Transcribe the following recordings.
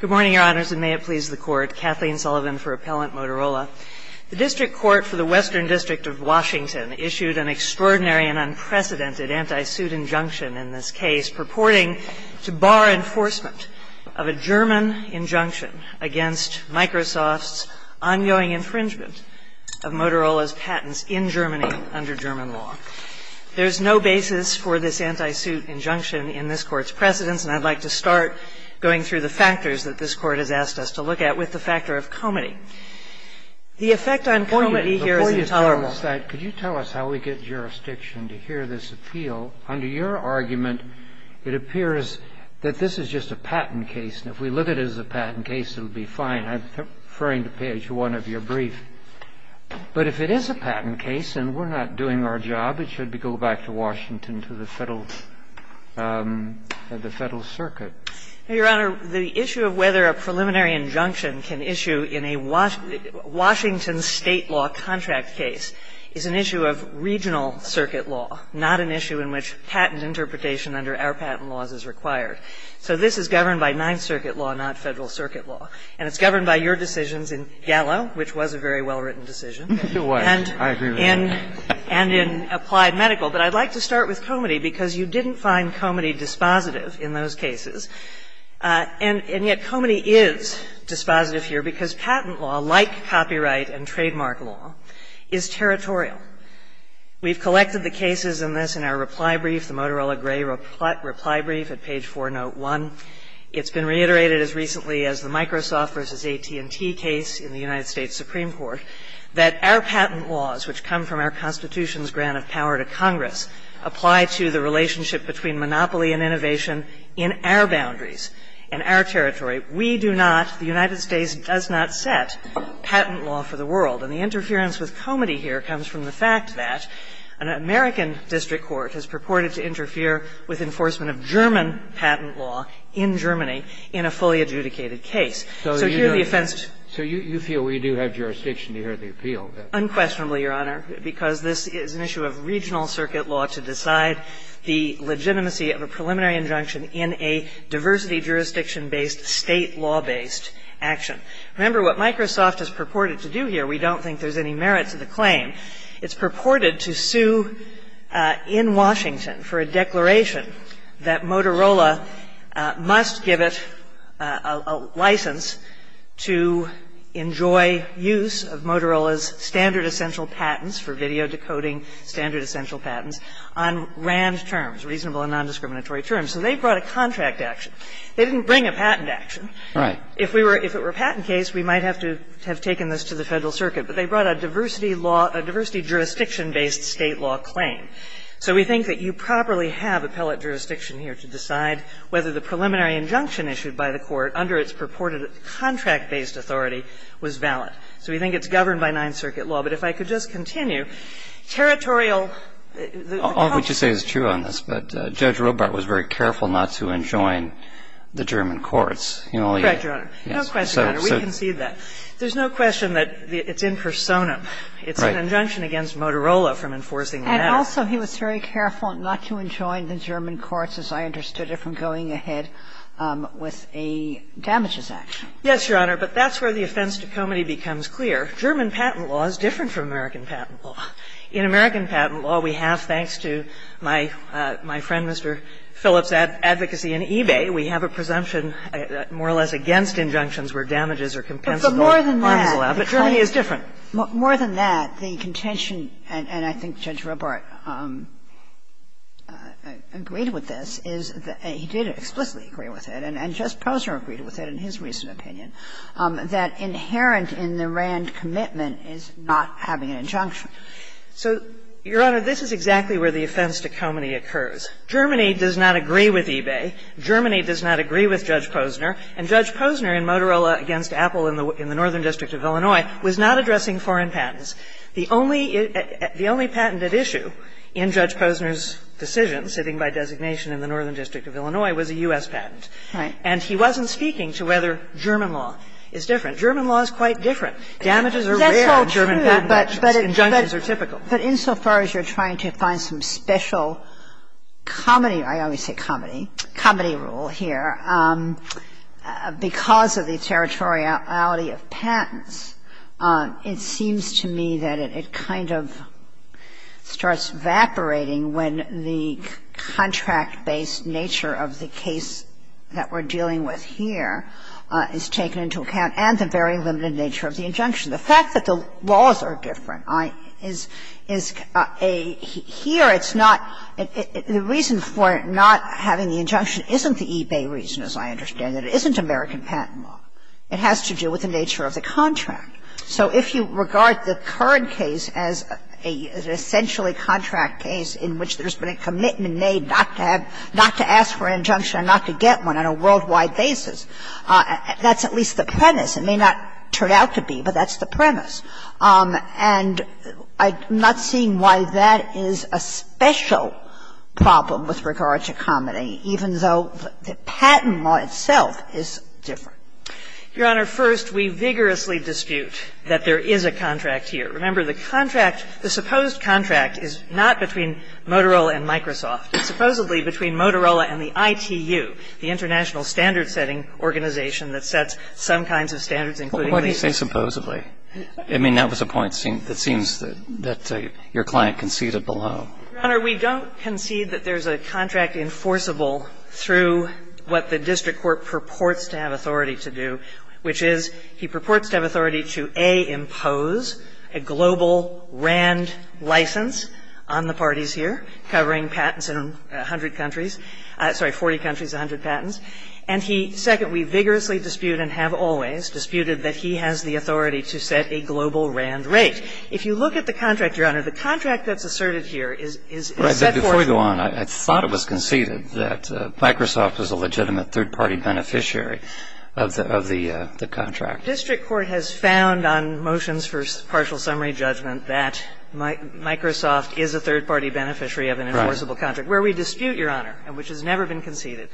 Good morning, Your Honors, and may it please the Court. Kathleen Sullivan for Appellant, Motorola. The District Court for the Western District of Washington issued an extraordinary and unprecedented anti-suit injunction in this case purporting to bar enforcement of a German injunction against Microsoft's ongoing infringement of Motorola's patents in Germany under German law. There is no basis for this anti-suit injunction in this Court's precedence, and I'd like to start going through the factors that this Court has asked us to look at with the factor of comity. The effect on comity here is intolerable. Before you tell us that, could you tell us how we get jurisdiction to hear this appeal? Under your argument, it appears that this is just a patent case, and if we look at it as a patent case, it would be fine. I'm referring to page 1 of your brief. But if it is a patent case and we're not doing our job, it should go back to Washington to the Federal Circuit. Your Honor, the issue of whether a preliminary injunction can issue in a Washington state law contract case is an issue of regional circuit law, not an issue in which patent interpretation under our patent laws is required. So this is governed by Ninth Circuit law, not Federal Circuit law. And it's governed by your decisions in GALA, which was a very well-written decision. It was. I agree with that. And in applied medical. But I'd like to start with comity, because you didn't find comity dispositive in those cases. And yet comity is dispositive here, because patent law, like copyright and trademark law, is territorial. We've collected the cases in this in our reply brief, the Motorola Gray reply brief at page 401. It's been reiterated as recently as the Microsoft versus AT&T case in the United States Supreme Court that our patent laws, which come from our Constitution's grant of power to Congress, apply to the relationship between monopoly and innovation in our boundaries, in our territory. We do not, the United States does not set patent law for the world. And the interference with comity here comes from the fact that an American district court has purported to interfere with enforcement of German patent law in Germany in a fully adjudicated case. So you feel we do have jurisdiction to hear the appeal. Unquestionably, Your Honor, because this is an issue of regional circuit law to decide the legitimacy of a preliminary injunction in a diversity jurisdiction-based, state law-based action. Remember, what Microsoft has purported to do here, we don't think there's any merit to the claim, it's purported to sue in Washington for a declaration that Motorola must give us a license to enjoy use of Motorola's standard essential patents for video decoding standard essential patents on RAND terms, reasonable and non-discriminatory terms. And they brought a contract action. They didn't bring a patent action. If it were a patent case, we might have to have taken this to the federal circuit. They brought a diversity jurisdiction-based state law claim. So we think that you properly have appellate jurisdiction here to decide whether the preliminary injunction issued by the court under its purported contract-based authority was valid. So we think it's governed by Ninth Circuit law. But if I could just continue, territorial... All that you say is true on this, but Judge Robart was very careful not to enjoin the German courts. Correct, Your Honor. No question, Your Honor. We concede that. There's no question that it's in persona. It's an injunction against Motorola from enforcing that. And also he was very careful not to enjoin the German courts, as I understood it, from going ahead with a damages action. Yes, Your Honor. But that's where the offense to comity becomes clear. German patent law is different from American patent law. In American patent law, we have, thanks to my friend Mr. Phillips' advocacy in eBay, we have a presumption more or less against injunctions where damages are compensable. But more than that... But Germany is different. More than that, the contention, and I think Judge Robart agreed with this, is that he did explicitly agree with it, and Judge Posner agreed with it in his recent opinion, that inherent in the RAND commitment is not having an injunction. So, Your Honor, this is exactly where the offense to comity occurs. Germany does not agree with eBay. Germany does not agree with Judge Posner. And Judge Posner in Motorola against Apple in the Northern District of Illinois was not addressing foreign patents. The only patent at issue in Judge Posner's decision, sitting by designation in the Northern District of Illinois, was a U.S. patent. And he wasn't speaking to whether German law is different. German law is quite different. Damages are rare in German patent law. Injunctions are typical. But insofar as you're trying to find some special comity, I always say comity, comity rule here, because of the territoriality of patents, it seems to me that it kind of starts evaporating when the contract-based nature of the case that we're dealing with here is taken into account and the very limited nature of the injunction. The fact that the laws are different is a, here it's not, the reason for not having the injunction isn't the eBay reason, as I understand it. It isn't American patent law. It has to do with the nature of the contract. So, if you regard the current case as an essentially contract case in which there's been a commitment made not to ask for an injunction and not to get one on a worldwide basis, that's at least the premise. It may not turn out to be, but that's the premise. And I'm not seeing why that is a special problem with regard to comity, even though the patent law itself is different. Your Honor, first, we vigorously dispute that there is a contract here. Remember, the contract, the supposed contract is not between Motorola and Microsoft. It's supposedly between Motorola and the ITU, the international standard-setting organization that sets some kinds of standards, including these. Well, what do you say supposedly? I mean, that was a point that seems that your client conceded below. Your Honor, we don't concede that there's a contract enforceable through what the district court purports to have authority to do, which is he purports to have authority to, A, impose a global RAND license on the parties here, covering patents in 100 countries, sorry, 40 countries, 100 patents. And he said that we vigorously dispute and have always disputed that he has the authority to set a global RAND rate. If you look at the contract, your Honor, the contract that was served here is... Right, but before we go on, I thought it was conceded that Microsoft is a legitimate third-party beneficiary of the contract. The district court has found on motions for partial summary judgment that Microsoft is a third-party beneficiary of an enforceable contract. Where we dispute, your Honor, which has never been conceded,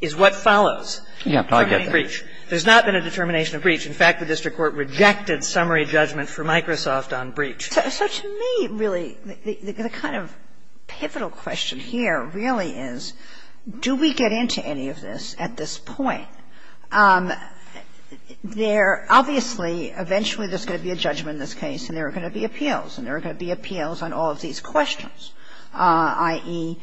is what follows. Yeah, I get that. There's not been a determination of breach. In fact, the district court rejected summary judgment for Microsoft on breach. So to me, really, the kind of pivotal question here really is, do we get into any of this at this point? There obviously, eventually, there's going to be a judgment in this case, and there are going to be appeals. And there are going to be appeals on all of these questions, i.e.,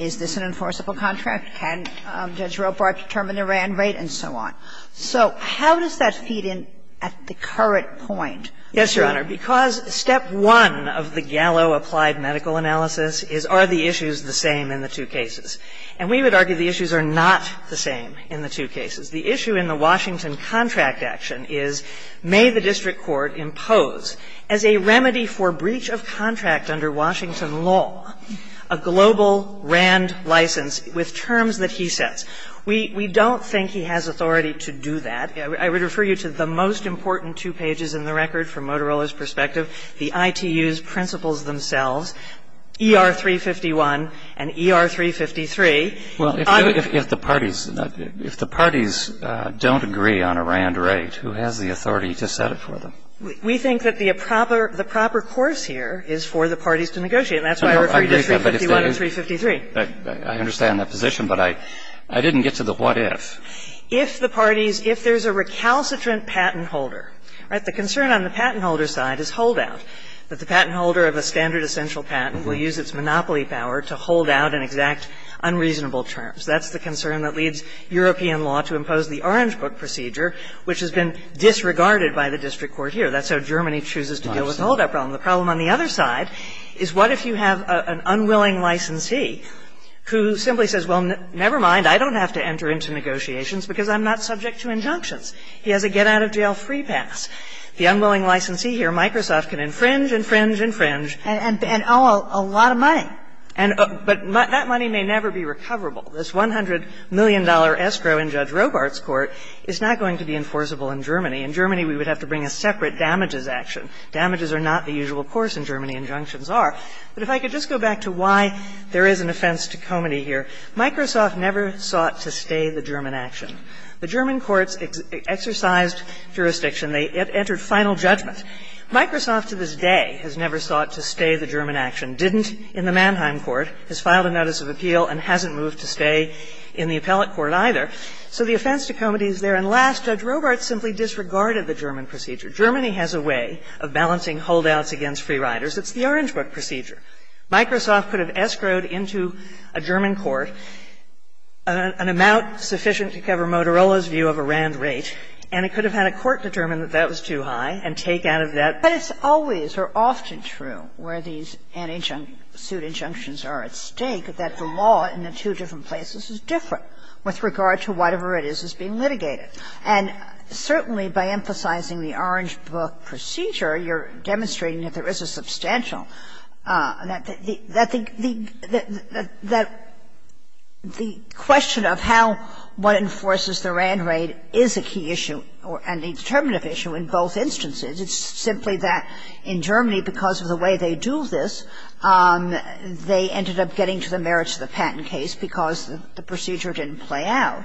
is this an enforceable contract? Can Judge Robart determine the RAND rate? And so on. So how does that feed in at the current point? Yes, your Honor, because step one of the Gallo applied medical analysis is, are the issues the same in the two cases? And we would argue the issues are not the same in the two cases. The issue in the Washington contract action is, may the district court impose, as a remedy for breach of contract under Washington law, a global RAND license with terms that he sets? We don't think he has authority to do that. I would refer you to the most important two pages in the record from Motorola's perspective, the ITU's principles themselves, ER-351 and ER-353. Well, if the parties don't agree on a RAND rate, who has the authority to set it for them? We think that the proper course here is for the parties to negotiate, and that's why we're referring to 351 and 353. I understand that position, but I didn't get to the what ifs. If the parties, if there's a recalcitrant patent holder. Right? The concern on the patent holder's side is holdout. But the patent holder of a standard essential patent will use its monopoly power to hold out an exact unreasonable terms. That's the concern that leads European law to impose the Orange Book procedure, which has been disregarded by the district court here. That's how Germany chooses to deal with all that problem. The problem on the other side is, what if you have an unwilling licensee who simply says, well, never mind, I don't have to enter into negotiations because I'm not subject to injunctions. He has a get-out-of-jail-free pass. The unwilling licensee here, Microsoft, can infringe, infringe, infringe. And owe a lot of money. But that money may never be recoverable. This $100 million escrow in Judge Robart's court is not going to be enforceable in Germany. In Germany, we would have to bring a separate damages action. Damages are not the usual course in Germany. Injunctions are. But if I could just go back to why there is an offense to comity here. Microsoft never sought to stay the German action. The German courts exercised jurisdiction. They entered final judgment. Microsoft to this day has never sought to stay the German action, didn't in the Mannheim court, has filed a notice of appeal, and hasn't moved to stay in the appellate court either. So the offense to comity is there. And last, Judge Robart simply disregarded the German procedure. Germany has a way of balancing holdouts against free riders. It's the Orange Book procedure. Microsoft could have escrowed into a German court an amount sufficient to cover Motorola's view of a RAND rate, and it could have had a court determine that that was too high and take out of that. But it's always or often true where these anti-suit injunctions are at stake, that the law in the two different places is different with regard to whatever it is that's being litigated. And certainly by emphasizing the Orange Book procedure, you're demonstrating that there is a substantial, that the question of how one enforces the RAND rate is a key issue and a determinative issue in both instances. It's simply that in Germany, because of the way they do this, they ended up getting to the merits of the patent case because the procedure didn't play out.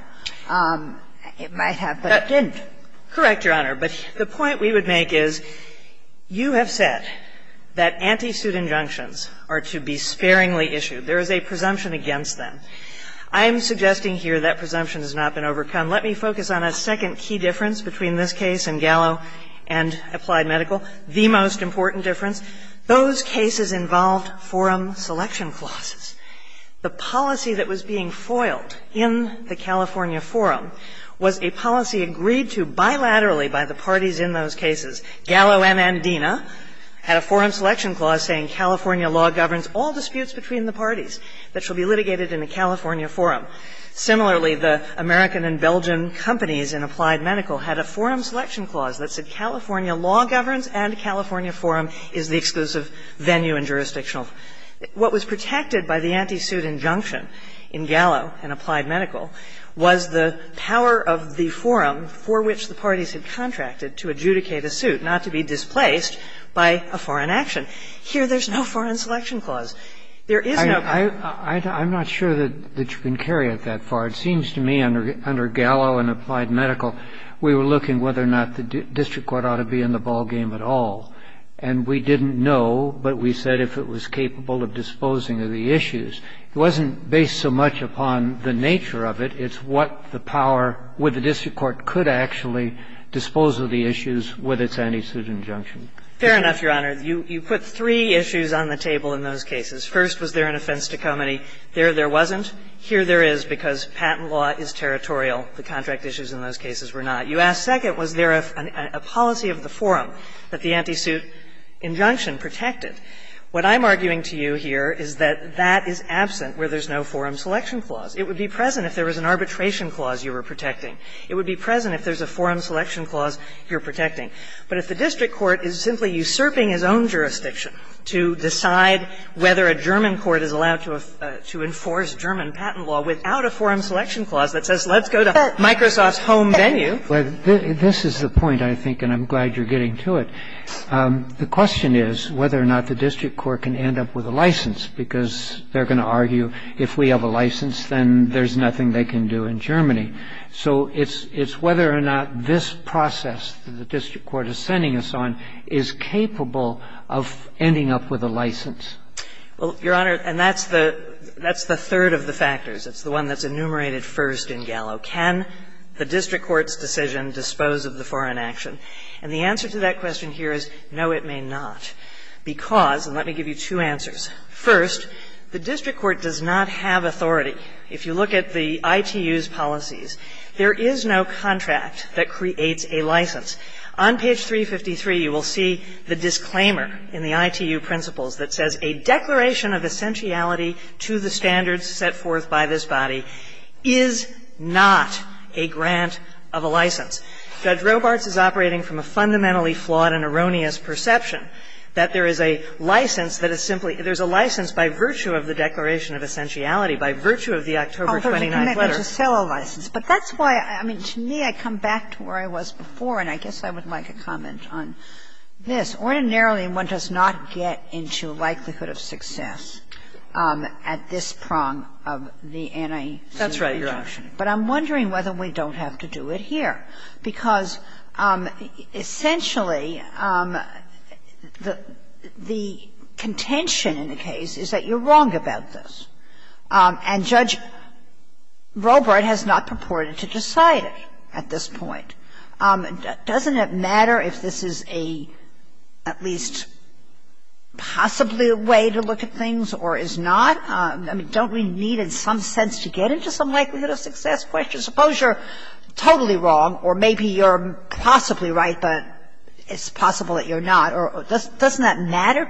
It might have been... That didn't. Correct, Your Honor. But the point we would make is you have said that anti-suit injunctions are to be sparingly issued. There is a presumption against them. I am suggesting here that presumption has not been overcome. Let me focus on a second key difference between this case and Gallo and applied medical, the most important difference. Those cases involved forum selection clauses. The policy that was being foiled in the California forum was a policy agreed to bilaterally by the parties in those cases. Gallo and Andina had a forum selection clause saying California law governs all disputes between the parties that shall be litigated in the California forum. Similarly, the American and Belgian companies in applied medical had a forum selection clause that said California law governs and California forum is the exclusive venue and jurisdictional. What was protected by the anti-suit injunction in Gallo and applied medical was the power of the forum for which the parties had contracted to adjudicate a suit not to be displaced by a foreign action. Here, there is no foreign selection clause. There is no... I am not sure that you can carry it that far. It seems to me under Gallo and applied medical, we were looking whether or not the district court ought to be in the ball game at all. And we didn't know, but we said if it was capable of disposing of the issues. It wasn't based so much upon the nature of it. It's what the power, what the district court could actually dispose of the issues with its anti-suit injunction. Fair enough, Your Honor. You put three issues on the table in those cases. First, was there an offense to comity? There, there wasn't. Here, there is, because patent law is territorial. The contract issues in those cases were not. You asked second, was there a policy of the forum that the anti-suit injunction protected? What I am arguing to you here is that that is absent where there is no forum selection clause. It would be present if there was an arbitration clause you were protecting. It would be present if there is a forum selection clause you are protecting. But if the district court is simply usurping its own jurisdiction to decide whether a German court is allowed to enforce German patent law without a forum selection clause that says let's go to Microsoft's home venue. This is the point, I think, and I'm glad you're getting to it. The question is whether or not the district court can end up with a license, because they're going to argue if we have a license, then there's nothing they can do in Germany. So it's whether or not this process the district court is sending us on is capable of ending up with a license. Well, Your Honor, and that's the third of the factors. It's the one that's enumerated first in Gallo. Can the district court's decision dispose of the foreign action? And the answer to that question here is no, it may not. Because, and let me give you two answers. First, the district court does not have authority. If you look at the ITU's policies, there is no contract that creates a license. On page 353, you will see the disclaimer in the ITU principles that says a declaration of essentiality to the standards set forth by this body is not a grant of a license. Judge Robarts is operating from a fundamentally flawed and erroneous perception that there is a license that is simply, there's a license by virtue of the declaration of essentiality, by virtue of the October 29th letter. But that's why, I mean, to me, I come back to where I was before, and I guess I would like a comment on this. Ordinarily, one does not get into likelihood of success at this prong of the NIE. That's right, Your Honor. But I'm wondering whether we don't have to do it here. Because essentially, the contention in the case is that you're wrong about this. And Judge Robart has not purported to decide at this point. Doesn't it matter if this is a, at least possibly a way to look at things, or is not? I mean, don't we need in some sense to get into some likelihood of success question? Suppose you're totally wrong, or maybe you're possibly right, but it's possible that you're not. Doesn't that matter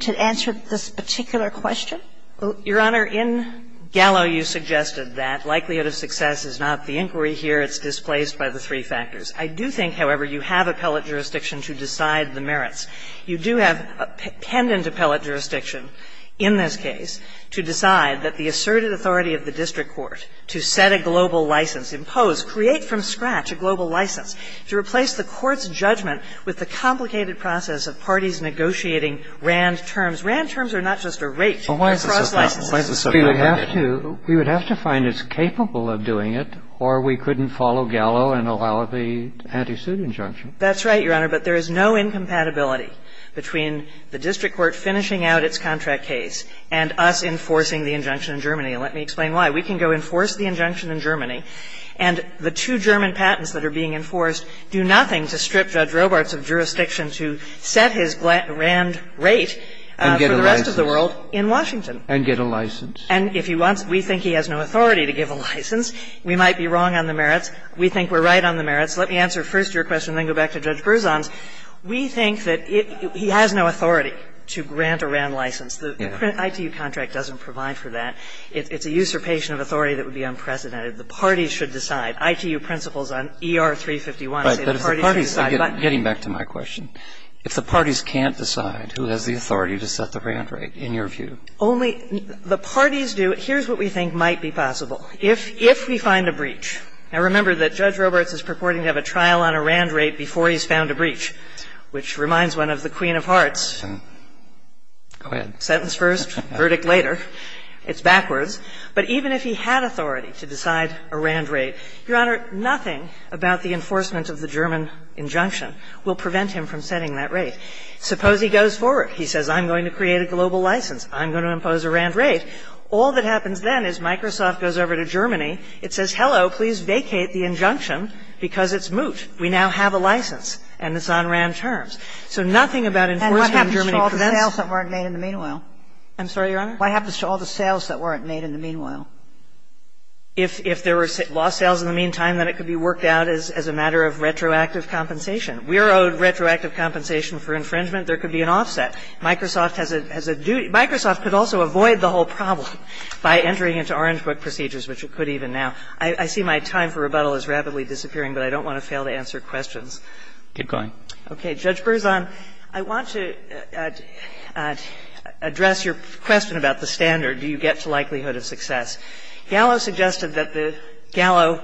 to answer this particular question? Well, Your Honor, in Gallo, you suggested that likelihood of success is not the inquiry here. It's displaced by the three factors. I do think, however, you have a pellet jurisdiction to decide the merits. You do have a pendant appellate jurisdiction in this case to decide that the asserted authority of the district court to set a global license, impose, create from scratch a global license, to replace the court's judgment with the complicated process of parties negotiating Rand's terms. Rand's terms are not just a rate. We would have to find it's capable of doing it, or we couldn't follow Gallo and allow the anti-suit injunction. That's right, Your Honor, but there is no incompatibility between the district court finishing out its contract case and us enforcing the injunction in Germany. And let me explain why. We can go enforce the injunction in Germany, and the two German patents that are being enforced do nothing to strip Judge Robarts of jurisdiction to set his Rand rate for the rest of the world in Washington. And get a license. And if you want, we think he has no authority to give a license. We might be wrong on the merits. We think we're right on the merits. Let me answer first your question, then go back to Judge Broussant. We think that he has no authority to grant a Rand license. The ITU contract doesn't provide for that. It's a usurpation of authority that would be unprecedented. The parties should decide. Getting back to my question. If the parties can't decide, who has the authority to set the Rand rate, in your view? Only the parties do. Here's what we think might be possible. If we find a breach. Now, remember that Judge Robarts is purporting to have a trial on a Rand rate before he's found a breach, which reminds one of the queen of hearts. Go ahead. Sentence first, verdict later. It's backwards. But even if he had authority to decide a Rand rate, Your Honor, nothing about the enforcement of the German injunction will prevent him from setting that rate. Suppose he goes forward. He says, I'm going to create a global license. I'm going to impose a Rand rate. All that happens then is Microsoft goes over to Germany. It says, hello, please vacate the injunction, because it's moot. We now have a license, and it's on Rand terms. So nothing about enforcing Germany prevents it. And what happens to all the sales that weren't made in the meanwhile? I'm sorry, Your Honor? What happens to all the sales that weren't made in the meanwhile? If there were lost sales in the meantime, then it could be worked out as a matter of retroactive compensation. We're owed retroactive compensation for infringement. There could be an offset. Microsoft has a duty. Microsoft could also avoid the whole problem by entering into Orange Book procedures, which it could even now. I see my time for rebuttal is rapidly disappearing, but I don't want to fail to answer questions. Keep going. Okay. Judge Berzon, I want to address your question about the standard. Do you get to likelihood of success? Gallo suggested that the Gallo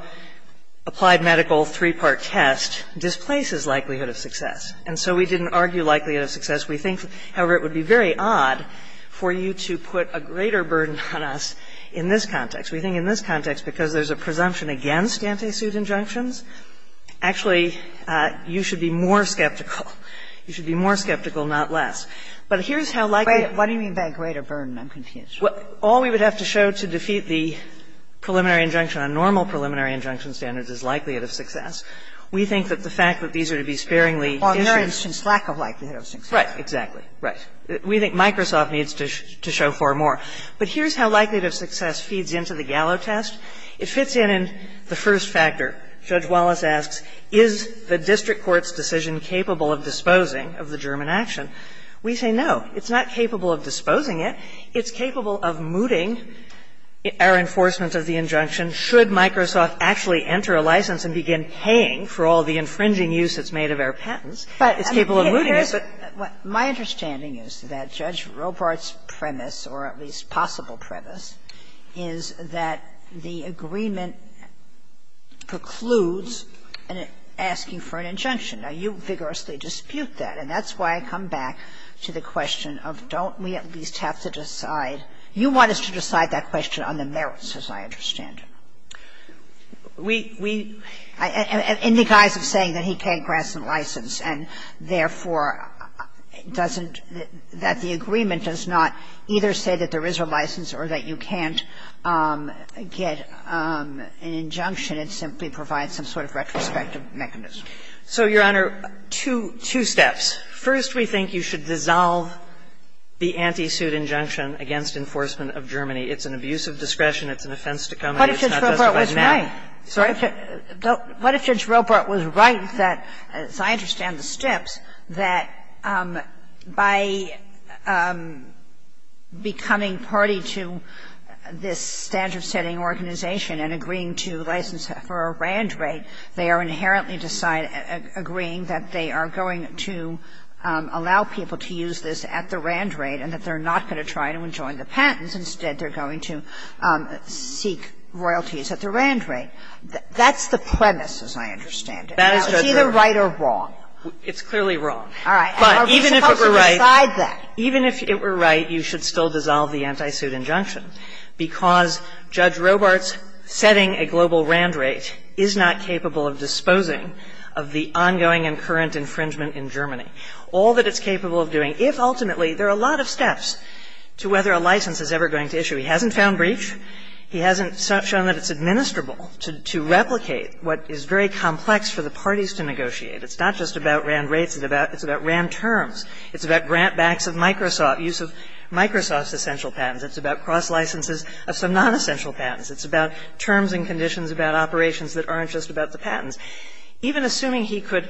applied medical three-part test displaces likelihood of success. And so we didn't argue likelihood of success. We think, however, it would be very odd for you to put a greater burden on us in this context. We think in this context, because there's a presumption against Nancy Sue's injunctions, actually, you should be more skeptical. You should be more skeptical, not less. But here's how likelihood of success. All we would have to show to defeat the preliminary injunction, a normal preliminary injunction standard, is likelihood of success. We think that the fact that these are to be sparingly ____________ lack of likelihood of success. Right. Exactly. Right. We think Microsoft needs to show far more. But here's how likelihood of success feeds into the Gallo test. It fits in in the first factor. Judge Wallace asks, is the district court's decision capable of disposing of the German action? We say no. It's not capable of disposing it. It's capable of mooting our enforcement of the injunction should Microsoft actually enter a license and begin paying for all the infringing use that's made of our patents. It's capable of mooting it. My understanding is that Judge Robart's premise, or at least possible premise, is that the agreement precludes asking for an injunction. Now, you vigorously dispute that. And that's why I come back to the question of don't we at least have to decide. You want us to decide that question on the merits, as I understand it. We ______ saying that he can't grant some license, and therefore doesn't ______ that the agreement does not either say that there is a license or that you can't get an injunction and simply provide some sort of retrospective mechanism. So, Your Honor, two steps. First, we think you should dissolve the anti-suit injunction against enforcement of Germany. It's an abuse of discretion. It's an offense to come ______. What if Judge Robart was right? Sorry? What if Judge Robart was right that, as I understand the steps, that by becoming party to this standard-setting organization and agreeing to license for a grand rate, they are inherently agreeing that they are going to allow people to use this at the grand rate and that they're not going to try to enjoin the patents. Instead, they're going to seek royalties at the grand rate. That's the premise, as I understand it. That is Judge Robart. It's either right or wrong. It's clearly wrong. All right. But even if it were right, you should still dissolve the anti-suit injunction because Judge Robart's setting a global grand rate is not capable of disposing of the ongoing and current infringement in Germany. All that it's capable of doing, if ultimately there are a lot of steps to whether a license is ever going to issue. He hasn't found breach. He hasn't shown that it's administrable to replicate what is very complex for the parties to negotiate. It's not just about grand rates. It's about grand terms. It's about grant backs of Microsoft, use of Microsoft's essential patents. It's about cross licenses of some non-essential patents. It's about terms and conditions about operations that aren't just about the patents. Even assuming he could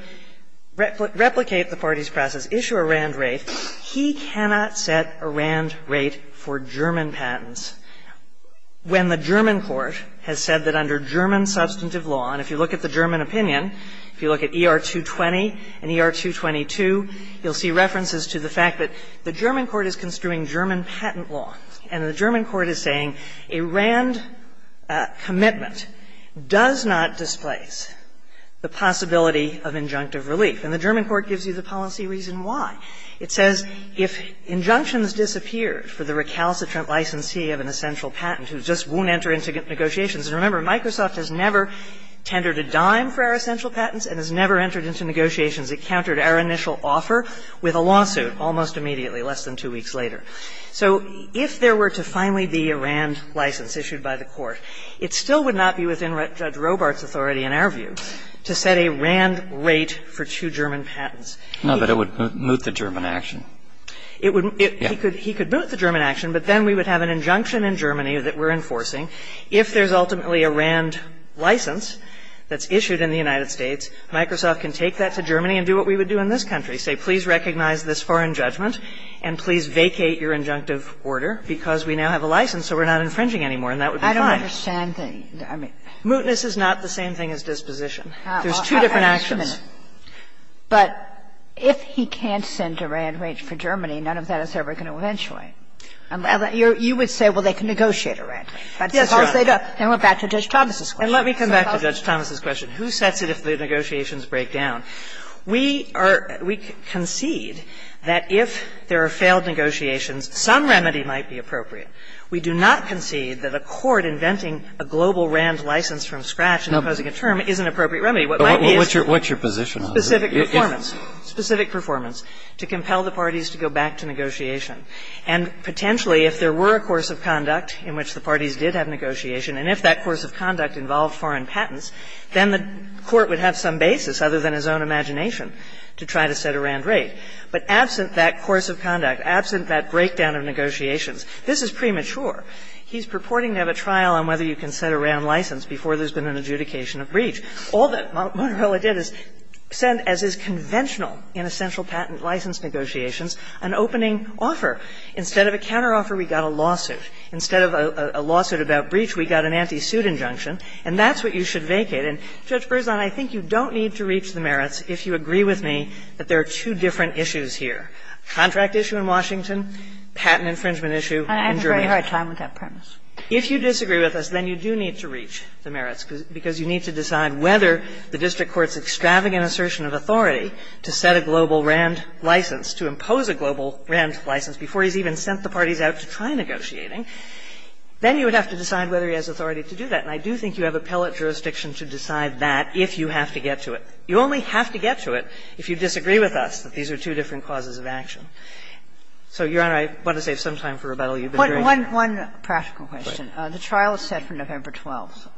replicate the parties' process, issue a grand rate, he cannot set a grand rate for German patents when the German court has said that under German substantive law, and if you look at the German opinion, if you look at ER 220 and ER 222, you'll see references to the fact that the German court is construing German patent law. And the German court is saying a RAND commitment does not displace the possibility of injunctive relief. And the German court gives you the policy reason why. It says if injunctions disappeared for the recalcitrant licensee of an essential patent, it just won't enter into negotiations. And remember, Microsoft has never tendered a dime for our essential patents and has never entered into negotiations. It countered our initial offer with a lawsuit almost immediately, less than two weeks later. So if there were to finally be a RAND license issued by the court, it still would not be within Judge Robart's authority in our view to set a RAND rate for two German patents. No, but it would moot the German action. He could moot the German action, but then we would have an injunction in Germany that we're enforcing. If there's ultimately a RAND license that's issued in the United States, Microsoft can take that to Germany and do what we would do in this country, say please recognize this foreign judgment and please vacate your injunctive order because we now have a license so we're not infringing anymore and that would be fine. I don't understand. Mootness is not the same thing as disposition. There's two different actions. But if he can't send a RAND rate for Germany, none of that is ever going to eventually. You would say, well, they can negotiate a RAND rate. Yes, they do. And we're back to Judge Thomas's question. And let me come back to Judge Thomas's question. Who sets it if the negotiations break down? We are – we concede that if there are failed negotiations, some remedy might be appropriate. We do not concede that a court inventing a global RAND license from scratch and imposing a term is an appropriate remedy. What might be is specific performance, specific performance to compel the parties to go back to negotiation. And potentially if there were a course of conduct in which the parties did have negotiation and if that course of conduct involved foreign patents, then the court would have some basis other than his own imagination to try to set a RAND rate. But absent that course of conduct, absent that breakdown of negotiations, this is premature. He's purporting to have a trial on whether you can set a RAND license before there's been an adjudication of breach. All that Montebello did is send, as is conventional in essential patent license negotiations, an opening offer. Instead of a lawsuit about breach, we've got an anti-suit injunction. And that's what you should vacate. And Judge Berzon, I think you don't need to reach the merits if you agree with me that there are two different issues here, contract issue in Washington, patent infringement issue in Germany. But I have a very hard time with that premise. If you disagree with us, then you do need to reach the merits because you need to decide whether the district court's extravagant assertion of authority to set a global RAND license, to impose a global RAND license before he's even sent the parties out to try negotiating, then you would have to decide whether he has authority to do that. And I do think you have appellate jurisdiction to decide that if you have to get to it. You only have to get to it if you disagree with us that these are two different causes of action. So, Your Honor, I want to save some time for rebuttal. One practical question. The trial is set for November 12th.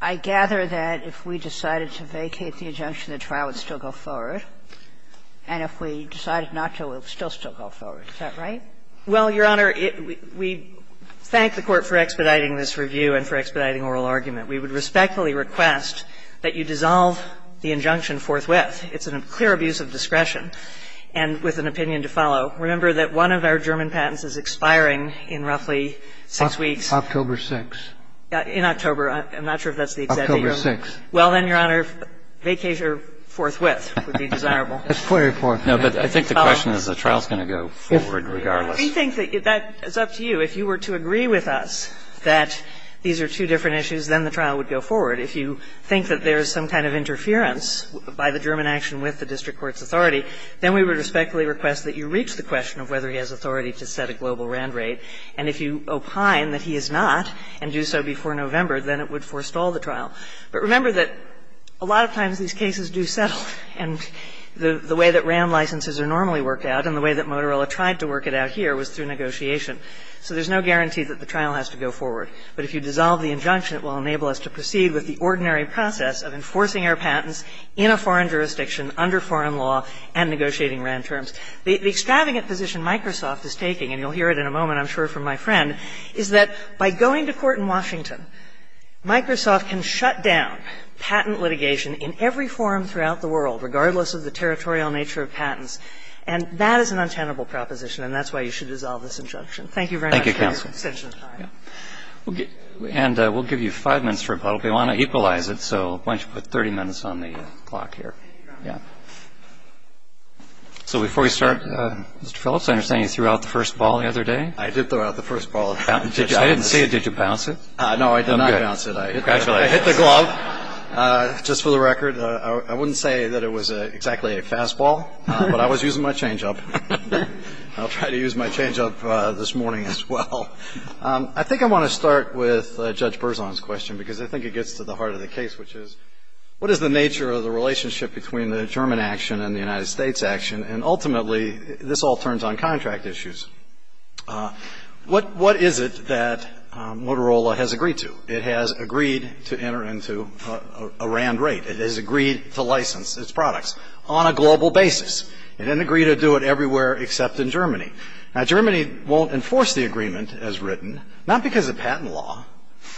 I gather that if we decided to vacate the injunction, the trial would still go forward. And if we decided not to, it would still go forward. Is that right? Well, Your Honor, we thank the Court for expediting this review and for expediting oral argument. We would respectfully request that you dissolve the injunction forthwith. It's a clear abuse of discretion and with an opinion to follow. Remember that one of our German patents is expiring in roughly six weeks. October 6th. In October. I'm not sure if that's the exact date. October 6th. Well, then, Your Honor, vacate her forthwith. It would be desirable. It's clearly forthwith. I think the question is the trial is going to go forward regardless. We think that it's up to you. If you were to agree with us that these are two different issues, then the trial would go forward. If you think that there is some kind of interference by the German action with the district court's authority, then we would respectfully request that you reach the question of whether he has authority to set a global RAND rate. And if you opine that he has not and do so before November, then it would forestall the trial. But remember that a lot of times these cases do settle. And the way that RAND licenses are normally worked out and the way that Motorola tried to work it out here was through negotiation. So there's no guarantee that the trial has to go forward. But if you dissolve the injunction, it will enable us to proceed with the ordinary process of enforcing our patents in a foreign jurisdiction, under foreign law, and negotiating RAND terms. The extravagant position Microsoft is taking, and you'll hear it in a moment, I'm sure, from my friend, is that by going to court in Washington, Microsoft can shut down patent litigation in every forum throughout the world, regardless of the territorial nature of patents. And that is an untenable proposition, and that's why you should dissolve this injunction. Thank you very much. Thank you, counsel. And we'll give you five minutes for a poll. If you want to equalize it, so why don't you put 30 minutes on the clock here. Yeah. So before we start, Mr. Phelps, I understand you threw out the first ball the other day. I did throw out the first ball. I didn't say it. Did you bounce it? No, I did not bounce it. I hit the glove. Just for the record, I wouldn't say that it was exactly a fastball, but I was using my change-up. I'll try to use my change-up this morning as well. I think I want to start with Judge Berzon's question because I think it gets to the heart of the case, which is, what is the nature of the relationship between the German action and the United States action? And ultimately, this all turns on contract issues. What is it that Motorola has agreed to? It has agreed to enter into a RAND rate. It has agreed to license its products on a global basis. It didn't agree to do it everywhere except in Germany. Now, Germany won't enforce the agreement as written, not because of patent law,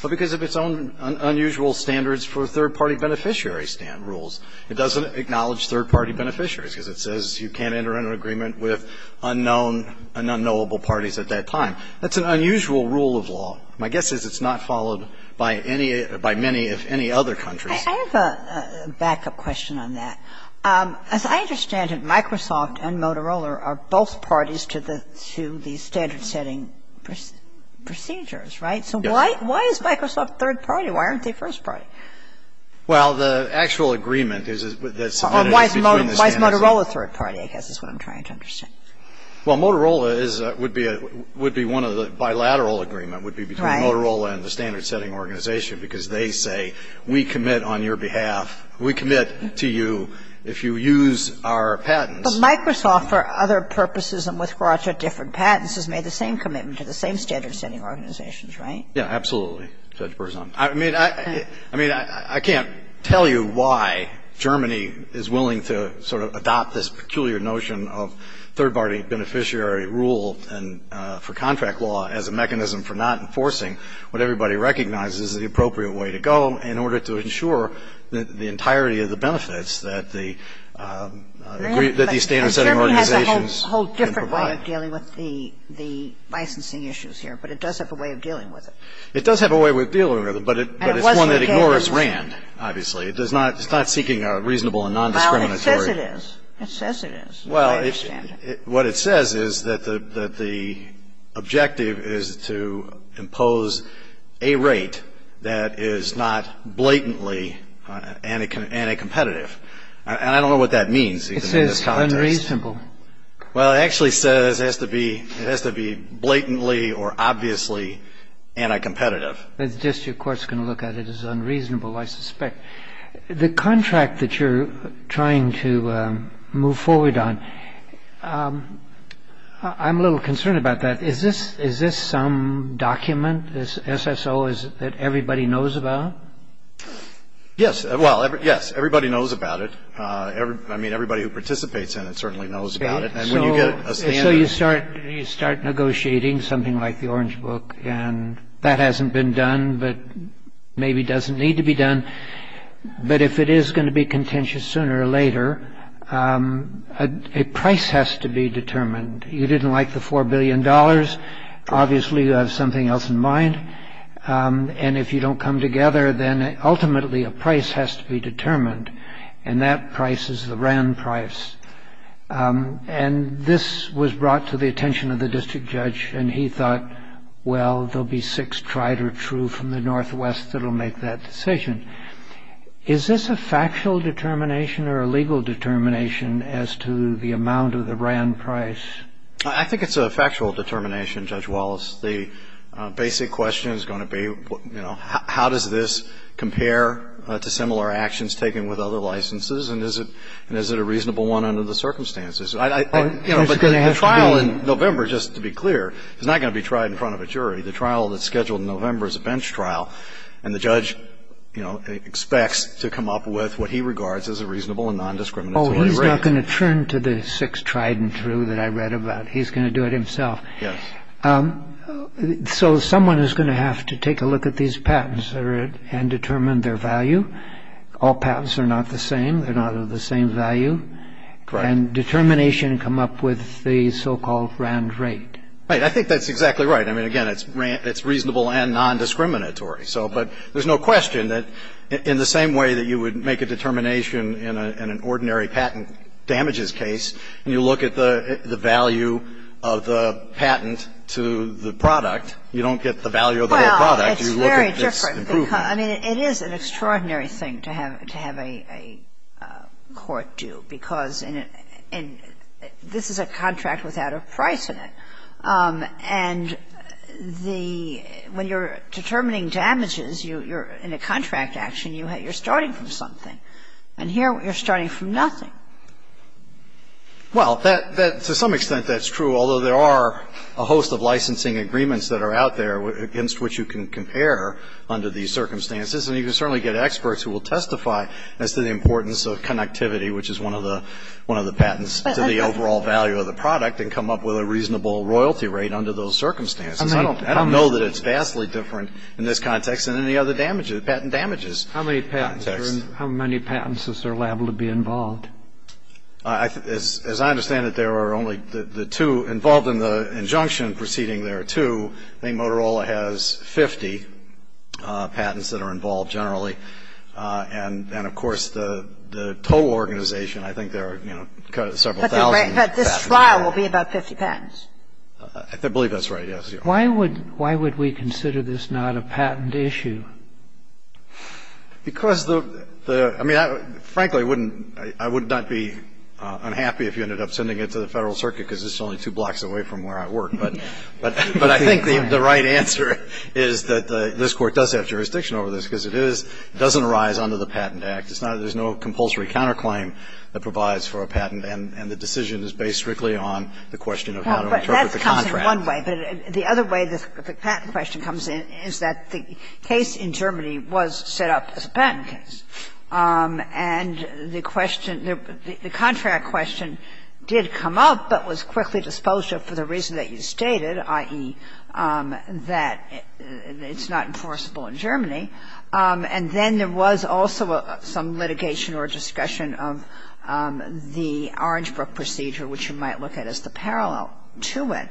but because of its own unusual standards for third-party beneficiary rules. It doesn't acknowledge third-party beneficiaries because it says you can't enter into an agreement with unknown and unknowable parties at that time. That's an unusual rule of law. My guess is it's not followed by many, if any, other countries. I have a backup question on that. As I understand it, Microsoft and Motorola are both parties to the standard-setting procedures, right? Why is Microsoft third-party? Why aren't they first-party? Well, the actual agreement is that some of it is between the standards. Why is Motorola third-party, I guess, is what I'm trying to understand. Well, Motorola would be one of the bilateral agreements, would be between Motorola and the standard-setting organization because they say, we commit on your behalf, we commit to you if you use our patents. But Microsoft, for other purposes and with regards to different patents, has made the same commitment to the same standard-setting organizations, right? Yeah, absolutely, Judge Berzon. I mean, I can't tell you why Germany is willing to sort of adopt this peculiar notion of third-party beneficiary rule for contract law as a mechanism for not enforcing what everybody recognizes is the appropriate way to go in order to ensure the entirety of the benefits that these standard-setting organizations can provide. It does have a way of dealing with the licensing issues here, but it does have a way of dealing with it. It does have a way of dealing with it, but it's one that ignores RAND, obviously. It's not seeking a reasonable and non-discriminatory. Well, it says it is. It says it is. Well, what it says is that the objective is to impose a rate that is not blatantly anti-competitive. I don't know what that means. It says unreasonable. Well, it actually says it has to be blatantly or obviously anti-competitive. This, of course, can look at it as unreasonable, I suspect. The contract that you're trying to move forward on, I'm a little concerned about that. Is this some document, this SSO, that everybody knows about? Yes. Well, yes, everybody knows about it. I mean, everybody who participates in it certainly knows about it. So you start negotiating something like the Orange Book, and that hasn't been done, but maybe doesn't need to be done. But if it is going to be contentious sooner or later, a price has to be determined. You didn't like the $4 billion, obviously you have something else in mind. And if you don't come together, then ultimately a price has to be determined. And that price is the Rand price. And this was brought to the attention of the district judge, and he thought, well, there will be six tried or true from the Northwest that will make that decision. Is this a factual determination or a legal determination as to the amount of the Rand price? I think it's a factual determination, Judge Wallace. The basic question is going to be, you know, how does this compare to similar actions taken with other licenses, and is it a reasonable one under the circumstances? The trial in November, just to be clear, is not going to be tried in front of a jury. The trial that's scheduled in November is a bench trial, and the judge, you know, expects to come up with what he regards as a reasonable and non-discriminatory verdict. Oh, he's not going to turn to the six tried and true that I read about. He's going to do it himself. So someone is going to have to take a look at these patents and determine their value. All patents are not the same. They're not of the same value. And determination come up with the so-called Rand rate. Right, I think that's exactly right. I mean, again, it's reasonable and non-discriminatory. But there's no question that in the same way that you would make a determination in an ordinary patent damages case, and you look at the value of the patent to the product, you don't get the value of the product. Well, it's very different. I mean, it is an extraordinary thing to have a court do, because this is a contract without a price in it. And when you're determining damages in a contract action, you're starting from something. And here you're starting from nothing. Well, to some extent that's true, although there are a host of licensing agreements that are out there against which you can compare under these circumstances. And you can certainly get experts who will testify as to the importance of connectivity, which is one of the patents to the overall value of the product, and come up with a reasonable royalty rate under those circumstances. I don't know that it's vastly different in this context than any other patent damages. How many patents is there liable to be involved? As I understand it, there are only the two involved in the injunction preceding there are two. I mean, Motorola has 50 patents that are involved generally. And, of course, the toll organization, I think there are several thousand. But this trial will be about 50 patents. I believe that's right, yes. Why would we consider this not a patent issue? Because, frankly, I would not be unhappy if you ended up sending it to the Federal Circuit, because it's only two blocks away from where I work. But I think the right answer is that this Court does have jurisdiction over this, because it doesn't arise under the Patent Act. There's no compulsory counterclaim that provides for a patent, and the decision is based strictly on the question of how to interpret the contract. That's kind of one way. The other way the patent question comes in is that the case in Germany was set up as a patent case. And the contract question did come up, but was quickly disposed of for the reason that you stated, i.e., that it's not enforceable in Germany. And then there was also some litigation or discussion of the Orange Brook procedure, which you might look at as the parallel to it.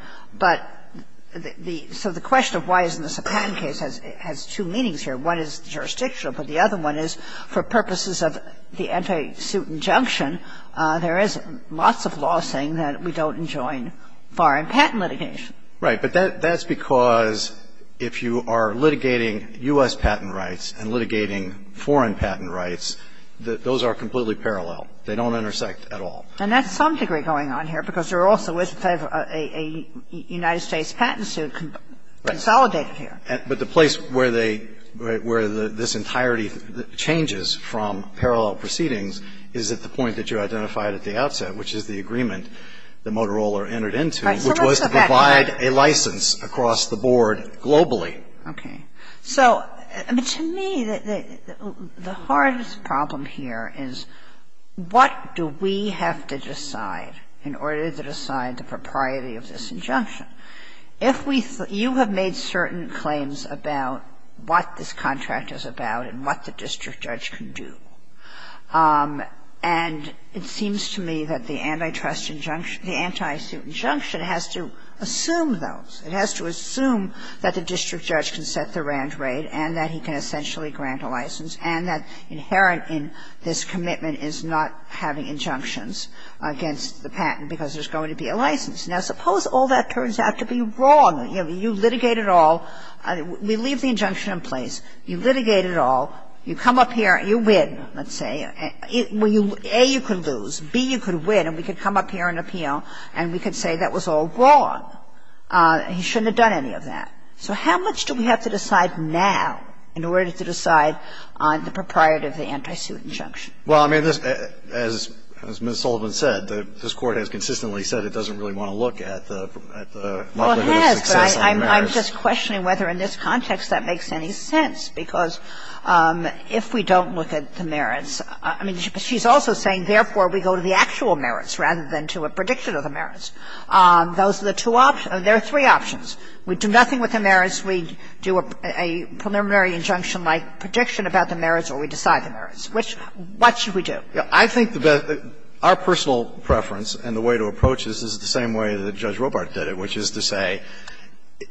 So the question of why isn't this a patent case has two meanings here. One is jurisdictional, but the other one is for purposes of the anti-suit injunction, there is lots of law saying that we don't enjoin foreign patent litigation. Right, but that's because if you are litigating U.S. patent rights and litigating foreign patent rights, those are completely parallel. They don't intersect at all. And that's some degree going on here because there also is a United States patent suit consolidated here. But the place where this entirety changes from parallel proceedings is at the point that you identified at the outset, which is the agreement that Motorola entered into, which was to provide a license across the board globally. So to me, the hardest problem here is what do we have to decide in order to decide the propriety of this injunction? You have made certain claims about what this contract is about and what the district judge can do. And it seems to me that the anti-suit injunction has to assume those. It has to assume that the district judge can set the RAND rate and that he can essentially grant a license and that inherent in this commitment is not having injunctions against the patent because there's going to be a license. Now suppose all that turns out to be wrong. You litigate it all. We leave the injunction in place. You litigate it all. You come up here. You win, let's say. A, you could lose. B, you could win. And we could come up here and appeal and we could say that was all wrong. He shouldn't have done any of that. So how much do we have to decide now in order to decide on the propriety of the anti-suit injunction? Well, I mean, as Ms. Sullivan said, this Court has consistently said it doesn't really want to look at the Well, it has, but I'm just questioning whether in this context that makes any sense because if we don't look at the merits, I mean, she's also saying therefore we go to the actual merits rather than to a prediction of the merits. Those are the two options. There are three options. We do nothing with the merits. We do a preliminary injunction-like prediction about the merits or we decide the merits. What should we do? I think that our personal preference and the way to approach this is the same way that Judge Robart did it, which is to say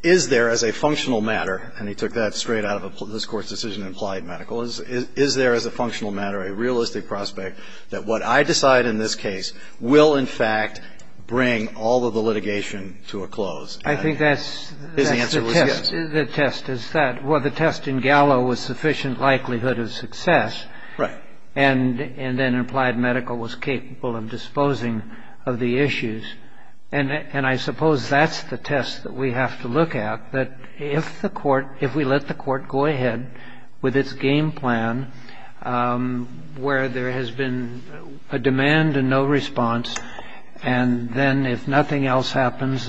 is there as a functional matter, and he took that straight out of this Court's decision implied medical, is there as a functional matter, a realistic prospect that what I decide in this case will, in fact, bring all of the litigation to a close? I think that's the test. The test is that. Well, the test in Gallo was sufficient likelihood of success. Right. And then implied medical was capable of disposing of the issues. And I suppose that's the test that we have to look at. If we let the Court go ahead with its game plan where there has been a demand and no response, and then if nothing else happens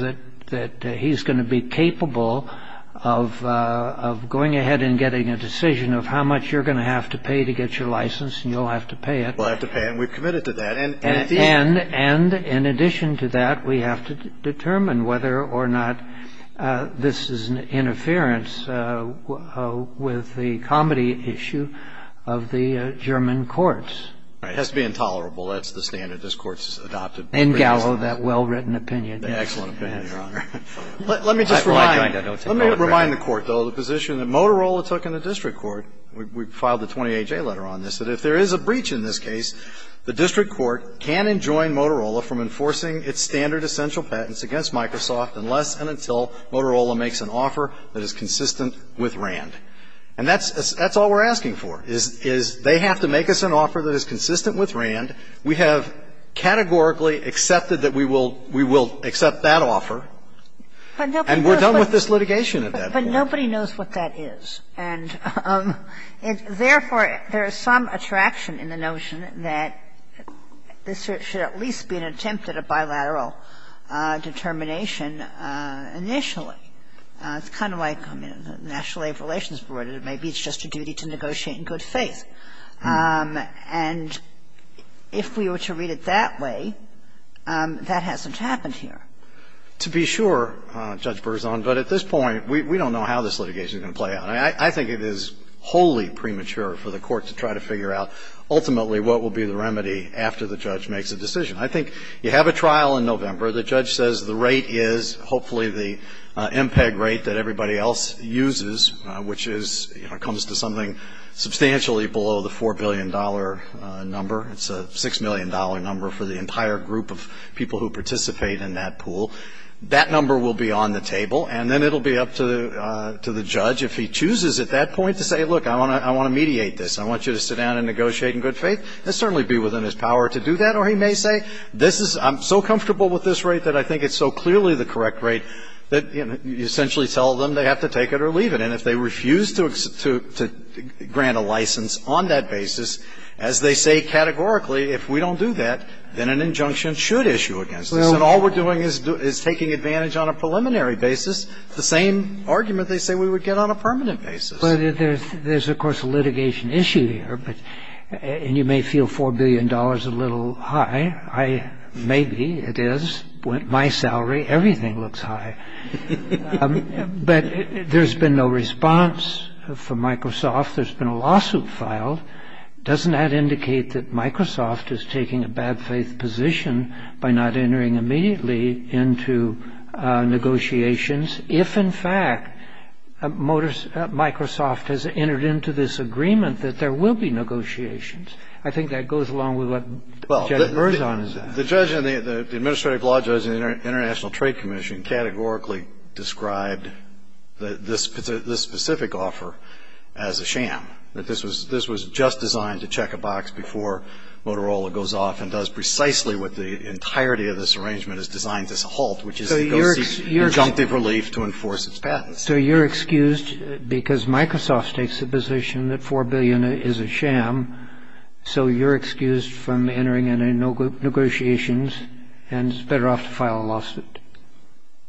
that he's going to be capable of going ahead and getting a decision of how much you're going to have to pay to get your license, and you'll have to pay it. We'll have to pay it, and we're committed to that. And in addition to that, we have to determine whether or not this is an interference with the comedy issue of the German courts. It has to be intolerable. That's the standard this Court's adopted. In Gallo, that well-written opinion. Excellent opinion, Your Honor. Let me just remind the Court, though, the position that Motorola took in the district court, we filed a 20-A-J letter on this, but if there is a breach in this case, the district court can enjoin Motorola from enforcing its standard essential patents against Microsoft unless and until Motorola makes an offer that is consistent with RAND. And that's all we're asking for, is they have to make us an offer that is consistent with RAND. We have categorically accepted that we will accept that offer. And we're done with this litigation at that point. But nobody knows what that is. And, therefore, there is some attraction in the notion that this should at least be an attempt at a bilateral determination initially. It's kind of like the National Labor Relations Board. It may be just a duty to negotiate in good faith. And if we were to read it that way, that hasn't happened here. To be sure, Judge Berzon, but at this point, we don't know how this litigation is going to play out. I think it is wholly premature for the court to try to figure out ultimately what will be the remedy after the judge makes a decision. I think you have a trial in November. The judge says the rate is hopefully the MPEG rate that everybody else uses, which comes to something substantially below the $4 billion number. It's a $6 million number for the entire group of people who participate in that pool. That number will be on the table. And then it will be up to the judge, if he chooses at that point, to say, look, I want to mediate this. I want you to sit down and negotiate in good faith. That will certainly be within his power to do that. Or he may say, I'm so comfortable with this rate that I think it's so clearly the correct rate, that you essentially tell them they have to take it or leave it. And if they refuse to grant a license on that basis, as they say categorically, if we don't do that, then an injunction should issue against us. And all we're doing is taking advantage on a preliminary basis. The same argument they say we would get on a permanent basis. There's, of course, a litigation issue there. And you may feel $4 billion is a little high. Maybe it is. My salary, everything looks high. But there's been no response from Microsoft. There's been a lawsuit filed. Doesn't that indicate that Microsoft is taking a bad faith position by not entering immediately into negotiations, if, in fact, Microsoft has entered into this agreement that there will be negotiations? I think that goes along with what Judge Merzon said. The judge and the administrative law judge in the International Trade Commission categorically described this specific offer as a sham. That this was just designed to check a box before Motorola goes off and does precisely what the entirety of this arrangement has designed as a halt, which is to go through conjunctive relief to enforce its patents. So you're excused because Microsoft takes the position that $4 billion is a sham. So you're excused from entering into negotiations and is better off to file a lawsuit.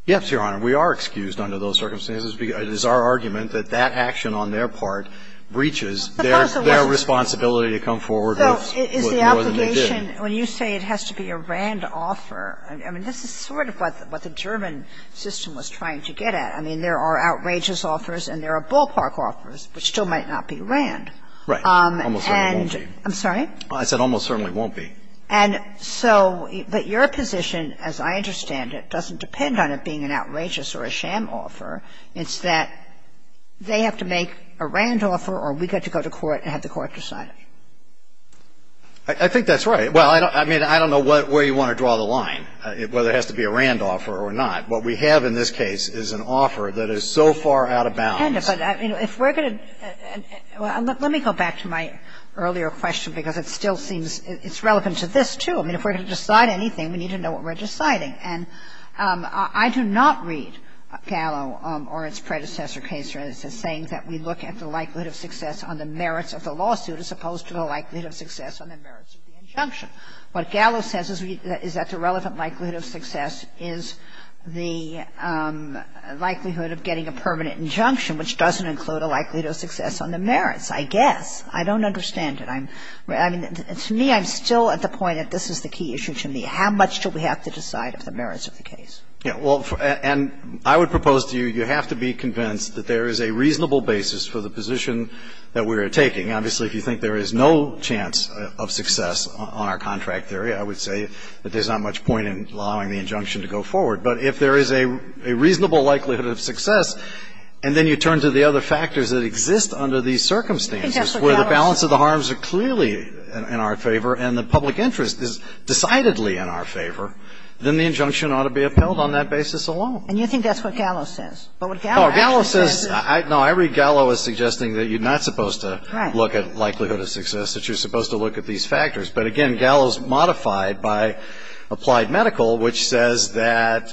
Yes, Your Honor. We are excused under those circumstances. It is our argument that that action on their part breaches their responsibility to come forward with more than they did. When you say it has to be a RAND offer, I mean, this is sort of what the German system was trying to get at. I mean, there are outrageous offers and there are bullpark offers that still might not be RAND. Right. Almost certainly won't be. I'm sorry? I said almost certainly won't be. But your position, as I understand it, doesn't depend on it being an outrageous or a sham offer. It's that they have to make a RAND offer or we get to go to court and have the court decide it. I think that's right. Well, I mean, I don't know where you want to draw the line, whether it has to be a RAND offer or not. What we have in this case is an offer that is so far out of bounds. Let me go back to my earlier question because it still seems it's relevant to this, too. I mean, if we're going to decide anything, we need to know what we're deciding. And I do not read Gallo or its predecessor case as saying that we look at the likelihood of success on the merits of the lawsuit as opposed to the likelihood of success on the merits of the injunction. What Gallo says is that the relevant likelihood of success is the likelihood of getting a permanent injunction, which doesn't include a likelihood of success on the merits, I guess. I don't understand it. I mean, to me, I'm still at the point that this is the key issue to me. How much do we have to decide on the merits of the case? Yeah, well, and I would propose to you, you have to be convinced that there is a reasonable basis for the position that we are taking. Obviously, if you think there is no chance of success on our contract theory, I would say that there's not much point in allowing the injunction to go forward. But if there is a reasonable likelihood of success, and then you turn to the other factors that exist under these circumstances, where the balance of the harms are clearly in our favor and the public interest is decidedly in our favor, then the injunction ought to be upheld on that basis alone. And you think that's what Gallo says? No, I read Gallo as suggesting that you're not supposed to look at likelihood of success, that you're supposed to look at these factors. But, again, Gallo's modified by Applied Medical, which says that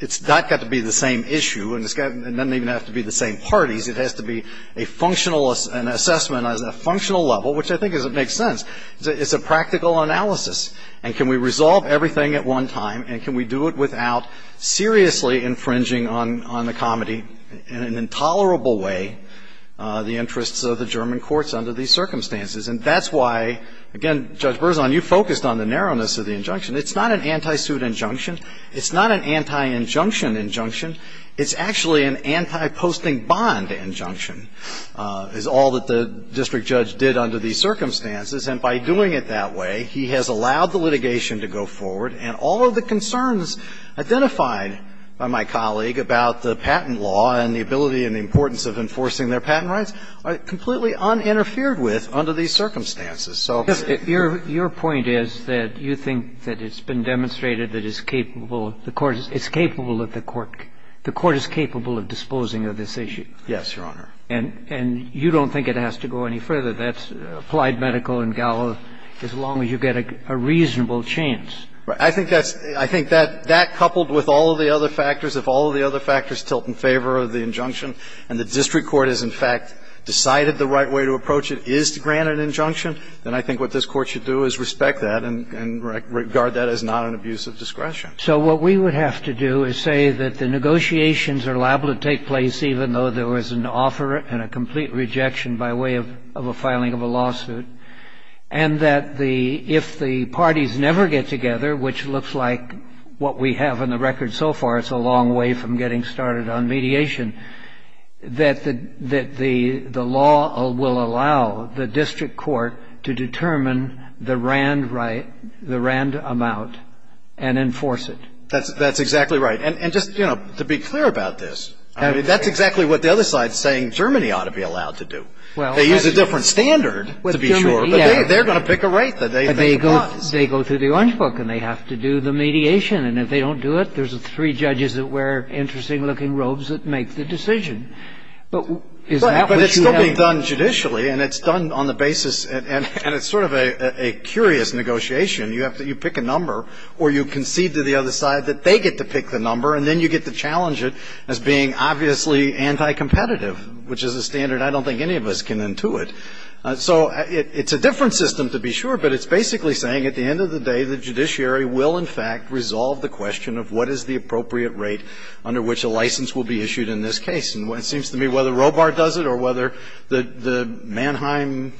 it's not got to be the same issue, and it doesn't even have to be the same parties. It has to be an assessment on a functional level, which I think makes sense. It's a practical analysis. And can we resolve everything at one time, and can we do it without seriously infringing on the comedy in an intolerable way the interests of the German courts under these circumstances? And that's why, again, Judge Berzon, you focused on the narrowness of the injunction. It's not an anti-suit injunction. It's not an anti-injunction injunction. It's actually an anti-posting bond injunction, is all that the district judge did under these circumstances. And by doing it that way, he has allowed the litigation to go forward. And all of the concerns identified by my colleague about the patent law and the ability and the importance of enforcing their patent rights are completely uninterfered with under these circumstances. So your point is that you think that it's been demonstrated that it's capable of the court. It's capable of the court. The court is capable of disposing of this issue. Yes, Your Honor. And you don't think it has to go any further. That's applied medical and gallows as long as you get a reasonable chance. I think that coupled with all of the other factors, if all of the other factors tilt in favor of the injunction and the district court has, in fact, decided the right way to approach it is to grant an injunction, then I think what this court should do is respect that and regard that as not an abuse of discretion. So what we would have to do is say that the negotiations are liable to take place, even though there was an offer and a complete rejection by way of a filing of a lawsuit, and that if the parties never get together, which looks like what we have on the record so far, it's a long way from getting started on mediation, that the law will allow the district court to determine the RAND right, the RAND amount, and enforce it. That's exactly right. And just, you know, to be clear about this, that's exactly what the other side is saying Germany ought to be allowed to do. They use a different standard, to be sure, but they're going to pick a rate. They go through the orange book and they have to do the mediation, and if they don't do it, there's three judges that wear interesting-looking robes that make the decision. But this book is done judicially, and it's done on the basis, and it's sort of a curious negotiation. You pick a number, or you concede to the other side that they get to pick the number, and then you get to challenge it as being obviously anti-competitive, which is a standard I don't think any of us can intuit. So it's a different system, to be sure, but it's basically saying at the end of the day the judiciary will, in fact, resolve the question of what is the appropriate rate under which a license will be issued in this case. And it seems to me whether Robart does it or whether the Mannheim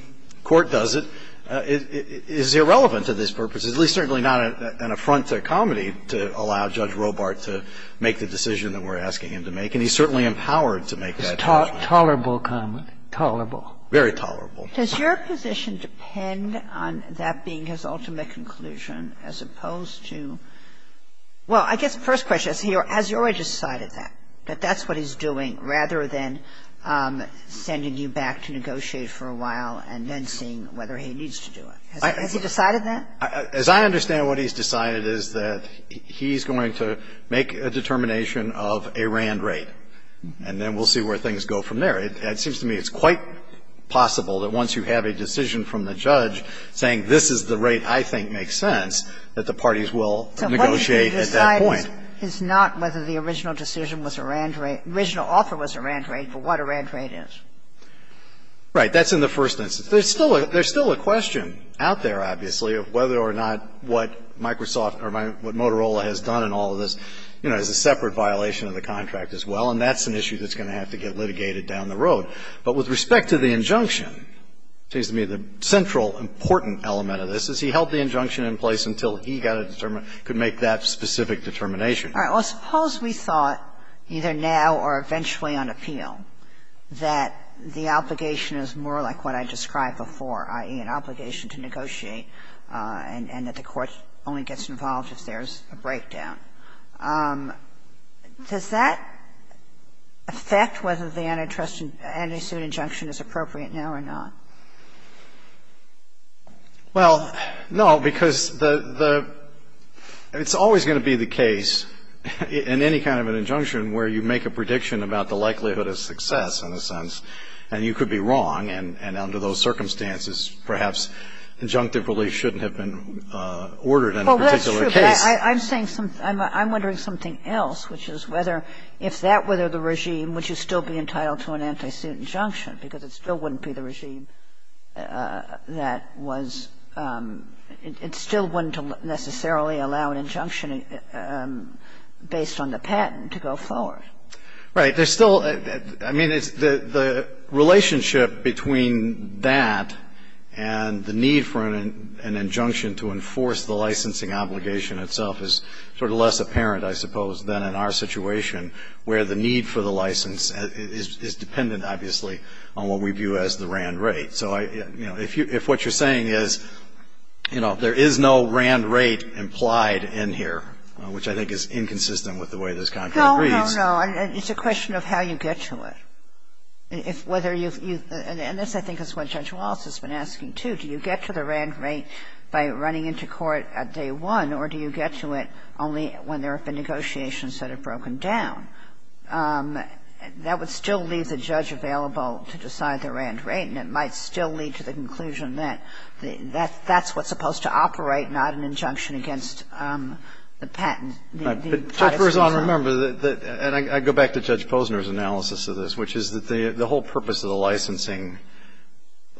court does it is irrelevant to this purpose, at least certainly not an affront to comedy to allow Judge Robart to make the decision that we're asking him to make, and he's certainly empowered to make that decision. It's tolerable comedy. Tolerable. Very tolerable. Does your position depend on that being his ultimate conclusion, as opposed to – Well, I guess first question, has he already decided that, that that's what he's doing, rather than sending you back to negotiate for a while and then seeing whether he needs to do it? Has he decided that? As I understand what he's decided is that he's going to make a determination of a RAND rate, and then we'll see where things go from there. It seems to me it's quite possible that once you have a decision from the judge saying this is the rate I think makes sense, that the parties will negotiate at that point. So what he's going to decide is not whether the original decision was a RAND rate, original offer was a RAND rate, but what a RAND rate is. Right. That's in the first instance. There's still a question out there, obviously, of whether or not what Microsoft or what Motorola has done in all of this, you know, is a separate violation of the contract as well, and that's an issue that's going to have to get litigated down the road. But with respect to the injunction, it seems to me the central important element of this is he held the injunction in place until he could make that specific determination. All right. Well, suppose we thought, either now or eventually on appeal, that the obligation is more like what I described before, i.e., an obligation to negotiate, and that the court only gets involved if there's a breakdown. Does that affect whether the antitrust injunction is appropriate now or not? Well, no, because it's always going to be the case in any kind of an injunction where you make a prediction about the likelihood of success, in a sense, and you could be wrong, and under those circumstances perhaps injunctive relief shouldn't have been ordered in a particular case. I'm wondering something else, which is whether if that were the regime, would you still be entitled to an anti-suit injunction, because it still wouldn't be the regime that was ‑‑ it still wouldn't necessarily allow an injunction based on the patent to go forward. Right. I mean, the relationship between that and the need for an injunction to enforce the licensing obligation itself is sort of less apparent, I suppose, than in our situation, where the need for the license is dependent, obviously, on what we view as the RAND rate. So, you know, if what you're saying is, you know, there is no RAND rate implied in here, which I think is inconsistent with the way this contract reads. No, no, no. It's a question of how you get to it. And this, I think, is what Judge Wallace has been asking, too. Do you get to the RAND rate by running into court at day one, or do you get to it only when there have been negotiations that have broken down? That would still leave the judge available to decide the RAND rate, and it might still lead to the conclusion that that's what's supposed to operate, not an injunction against the patent. Judge Rosano, remember, and I go back to Judge Posner's analysis of this, which is that the whole purpose of the licensing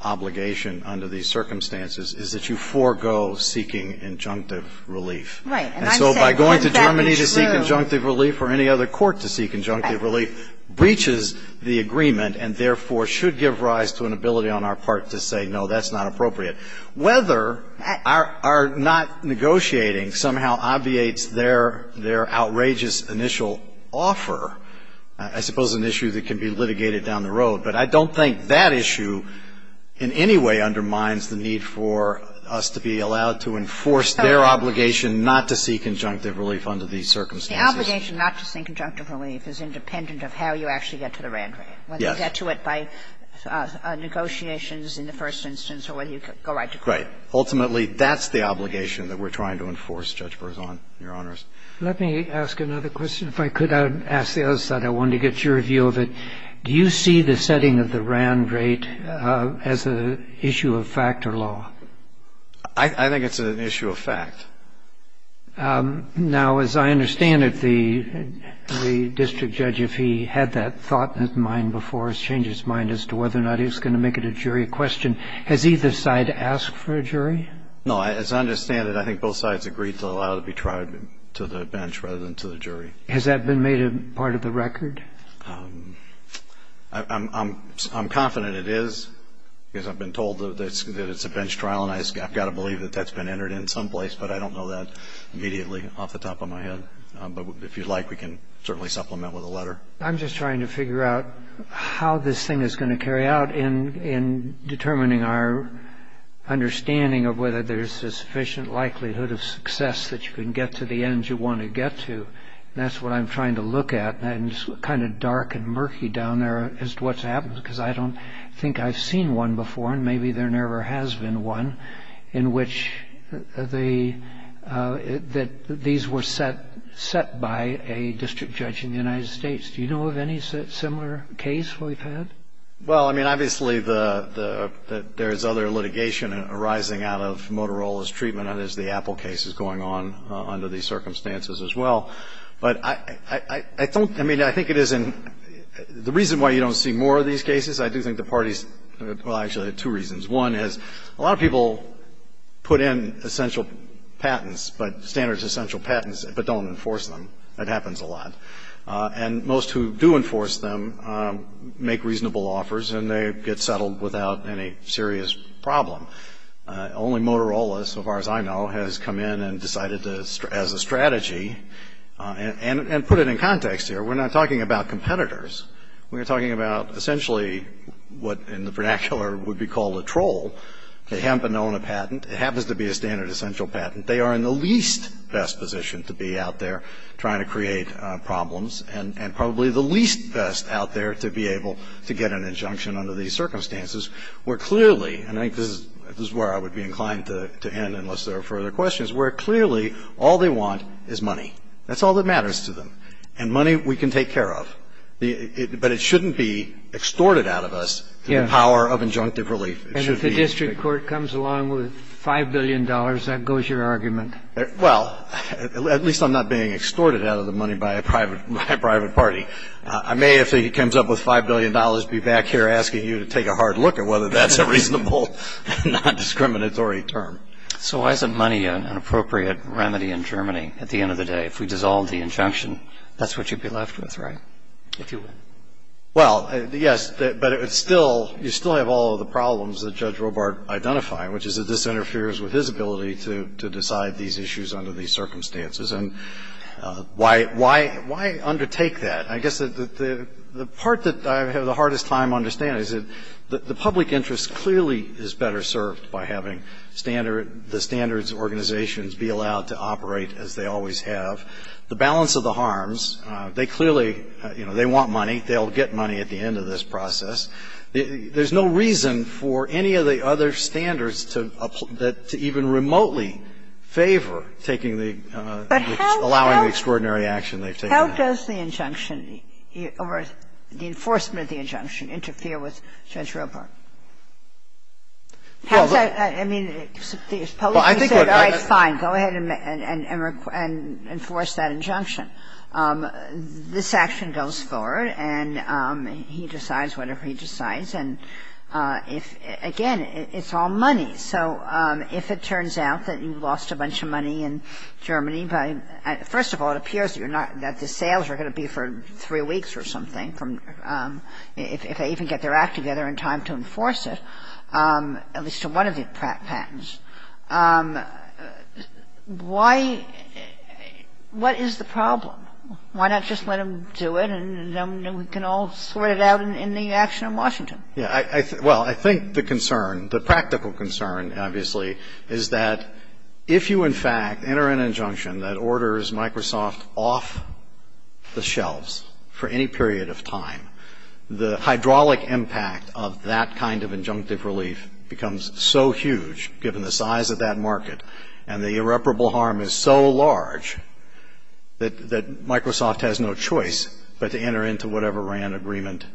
obligation under these circumstances is that you forego seeking injunctive relief. And so by going to Germany to seek injunctive relief or any other court to seek injunctive relief breaches the agreement and therefore should give rise to an ability on our part to say, no, that's not appropriate. Whether our not negotiating somehow obviates their outrageous initial offer, I suppose an issue that can be litigated down the road, but I don't think that issue in any way undermines the need for us to be allowed to enforce their obligation not to seek injunctive relief under these circumstances. The obligation not to seek injunctive relief is independent of how you actually get to the RAND rate. Yes. Whether you get to it by negotiations in the first instance or whether you go right to court. Right. Ultimately, that's the obligation that we're trying to enforce, Judge Rosano, Your Honors. Let me ask another question. If I could, I'd ask the other side. I wanted to get your view of it. Do you see the setting of the RAND rate as an issue of fact or law? I think it's an issue of fact. Now, as I understand it, the district judge, if he had that thought in his mind before, has changed his mind as to whether or not he's going to make it a jury question. Has either side asked for a jury? No. As I understand it, I think both sides agreed to allow it to be tried to the bench rather than to the jury. Has that been made a part of the record? I'm confident it is because I've been told that it's a bench trial, and I've got to believe that that's been entered in someplace, but I don't know that immediately off the top of my head. But if you'd like, we can certainly supplement with a letter. I'm just trying to figure out how this thing is going to carry out in determining our understanding of whether there's a sufficient likelihood of success that you can get to the ends you want to get to. That's what I'm trying to look at, and it's kind of dark and murky down there as to what's happened because I don't think I've seen one before, and maybe there never has been one, in which these were set by a district judge in the United States. Do you know of any similar case we've had? Well, I mean, obviously there's other litigation arising out of Motorola's treatment, and there's the Apple case that's going on under these circumstances as well. But I don't – I mean, I think it is – the reason why you don't see more of these cases, I do think the parties – well, actually, there are two reasons. One is a lot of people put in essential patents, but standards essential patents, but don't enforce them. That happens a lot. And most who do enforce them make reasonable offers, and they get settled without any serious problem. Only Motorola, so far as I know, has come in and decided as a strategy and put it in context here. We're not talking about competitors. We're talking about essentially what in the vernacular would be called a troll. They haven't been known a patent. It happens to be a standard essential patent. They are in the least best position to be out there trying to create problems and probably the least best out there to be able to get an injunction under these circumstances where clearly – and I think this is where I would be inclined to end unless there are further questions – where clearly all they want is money. That's all that matters to them. And money we can take care of. But it shouldn't be extorted out of us through the power of injunctive relief. And if the district court comes along with $5 billion, that goes your argument? Well, at least I'm not being extorted out of the money by a private party. I may, if he comes up with $5 billion, be back here asking you to take a hard look at whether that's a reasonable, non-discriminatory term. So why isn't money an appropriate remedy in Germany at the end of the day? If we dissolve the injunction, that's what you'd be left with, right? Well, yes, but you still have all of the problems that Judge Robart identified, which is that this interferes with his ability to decide these issues under these circumstances. And why undertake that? I guess the part that I have the hardest time understanding is that the public interest clearly is better served by having the standards organizations be allowed to operate as they always have. The balance of the harms, they clearly, you know, they want money. They'll get money at the end of this process. There's no reason for any of the other standards to even remotely favor taking the, allowing the extraordinary action they've taken. How does the injunction, or the enforcement of the injunction, interfere with Judge Robart? I mean, the public interest is always fine. Go ahead and enforce that injunction. This action goes forward, and he decides whatever he decides. And, again, it's all money. So if it turns out that you've lost a bunch of money in Germany by, first of all, it appears that you're not, that the sales are going to be for three weeks or something from, if they even get their act together in time to enforce it, at least to one of the patents. Why, what is the problem? Why not just let them do it, and then we can all sort it out in the action in Washington? Yeah, well, I think the concern, the practical concern, obviously, is that if you, in fact, enter an injunction that orders Microsoft off the shelves for any period of time, the hydraulic impact of that kind of injunctive relief becomes so huge, given the size of that market, and the irreparable harm is so large that Microsoft has no choice but to enter into whatever RAND agreement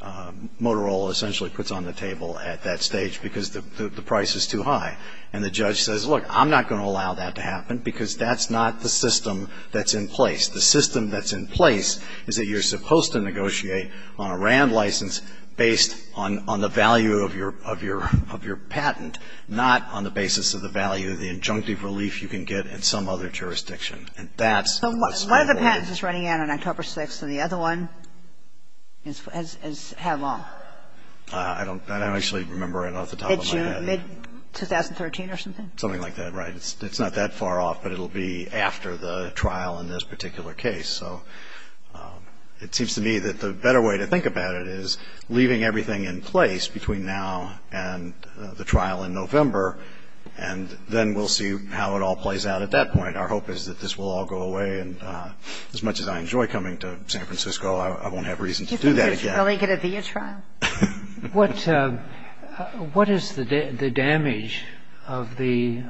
Motorola essentially puts on the table at that stage because the price is too high. And the judge says, look, I'm not going to allow that to happen because that's not the system that's in place. The system that's in place is that you're supposed to negotiate on a RAND license based on the value of your patent, not on the basis of the value of the injunctive relief you can get in some other jurisdiction. So one of the patents is running out on October 6th, and the other one is how long? I don't actually remember off the top of my head. It's mid-2013 or something? Something like that, right? It's not that far off, but it'll be after the trial in this particular case. So it seems to me that the better way to think about it is leaving everything in place between now and the trial in November, and then we'll see how it all plays out at that point. Our hope is that this will all go away, and as much as I enjoy coming to San Francisco, I won't have reason to do that again. Do you think it's really going to be a trial? What is the damage of the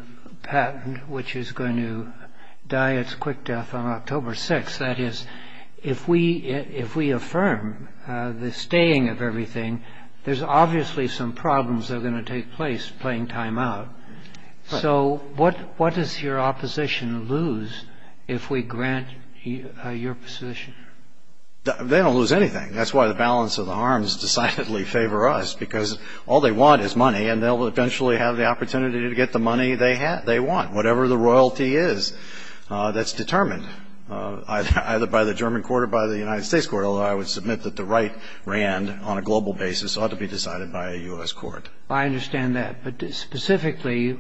patent which is going to die its quick death on October 6th? That is, if we affirm the staying of everything, there's obviously some problems that are going to take place playing time out. So what does your opposition lose if we grant your position? They don't lose anything. That's why the balance of the harms decidedly favor us, because all they want is money, and they'll eventually have the opportunity to get the money they want, whatever the royalty is that's determined, either by the German court or by the United States court, although I would submit that the right rand on a global basis ought to be decided by a U.S. court. I understand that, but specifically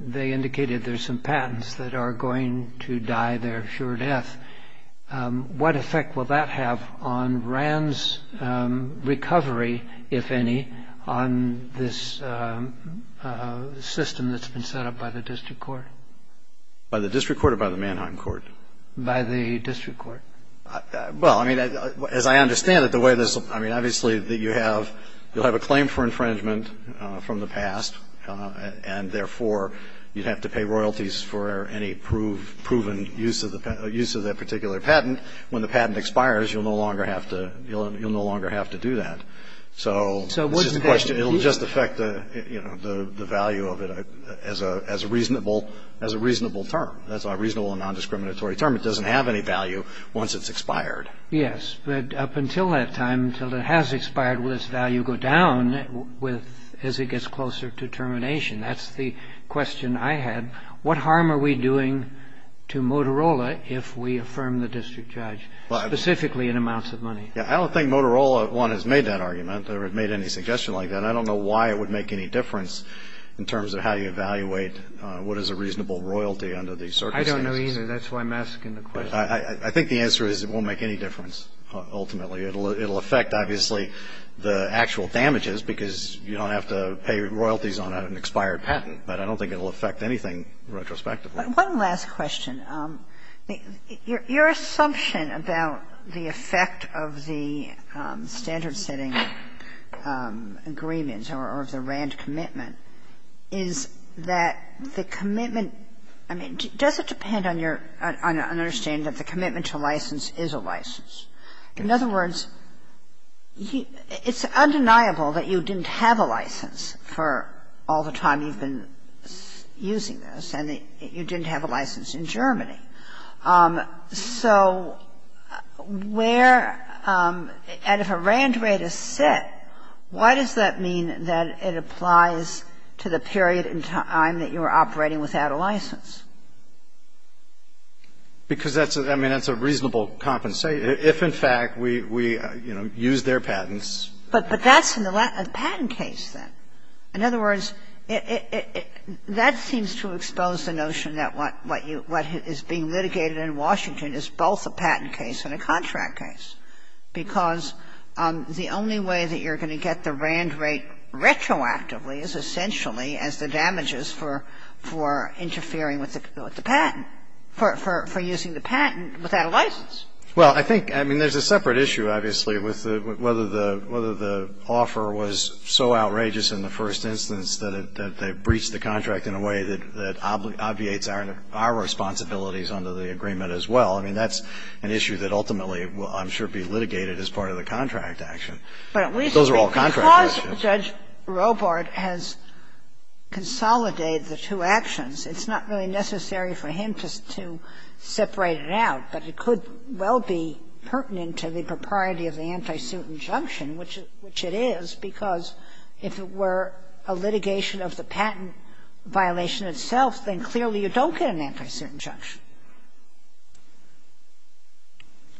they indicated there's some patents that are going to die their sure death. What effect will that have on Rand's recovery, if any, on this system that's been set up by the district court? By the district court or by the Mannheim court? By the district court. Well, as I understand it, obviously you'll have a claim for infringement from the past, and therefore you'd have to pay royalties for any proven use of that particular patent. When the patent expires, you'll no longer have to do that. So it'll just affect the value of it as a reasonable term. That's a reasonable and non-discriminatory term. It doesn't have any value once it's expired. Yes, but up until that time, until it has expired, will this value go down as it gets closer to termination? That's the question I had. What harm are we doing to Motorola if we affirm the district judge, specifically in amounts of money? I don't think Motorola, one, has made that argument or made any suggestion like that. I don't know why it would make any difference in terms of how you evaluate what is a reasonable royalty under these circumstances. I don't know either. That's why I'm asking the question. I think the answer is it won't make any difference ultimately. It'll affect, obviously, the actual damages because you don't have to pay royalties on an expired patent, but I don't think it'll affect anything retrospectively. One last question. Your assumption about the effect of the standard-setting agreements or of the ranch commitment is that the commitment, I mean, does it depend on your understanding that the commitment to license is a license? In other words, it's undeniable that you didn't have a license for all the time you've been using this and that you didn't have a license in Germany. So where, and if a ranch rate is set, why does that mean that it applies to the period in time that you were operating without a license? Because that's, I mean, it's a reasonable compensation. If, in fact, we, you know, use their patents. But that's a patent case, then. In other words, that seems to expose the notion that what is being litigated in Washington is both a patent case and a contract case because the only way that you're going to get the ranch rate retroactively is essentially as the damages for interfering with the patent, for using the patent without a license. Well, I think, I mean, there's a separate issue, obviously, with whether the offer was so outrageous in the first instance that they breached the contract in a way that obviates our responsibilities under the agreement as well. I mean, that's an issue that ultimately will, I'm sure, be litigated as part of the contract action. Those are all contract actions. Because Judge Robart has consolidated the two actions, it's not really necessary for him just to separate it out. But it could well be pertinent to the propriety of the anti-suit injunction, which it is, because if it were a litigation of the patent violation itself, then clearly you don't get an anti-suit injunction.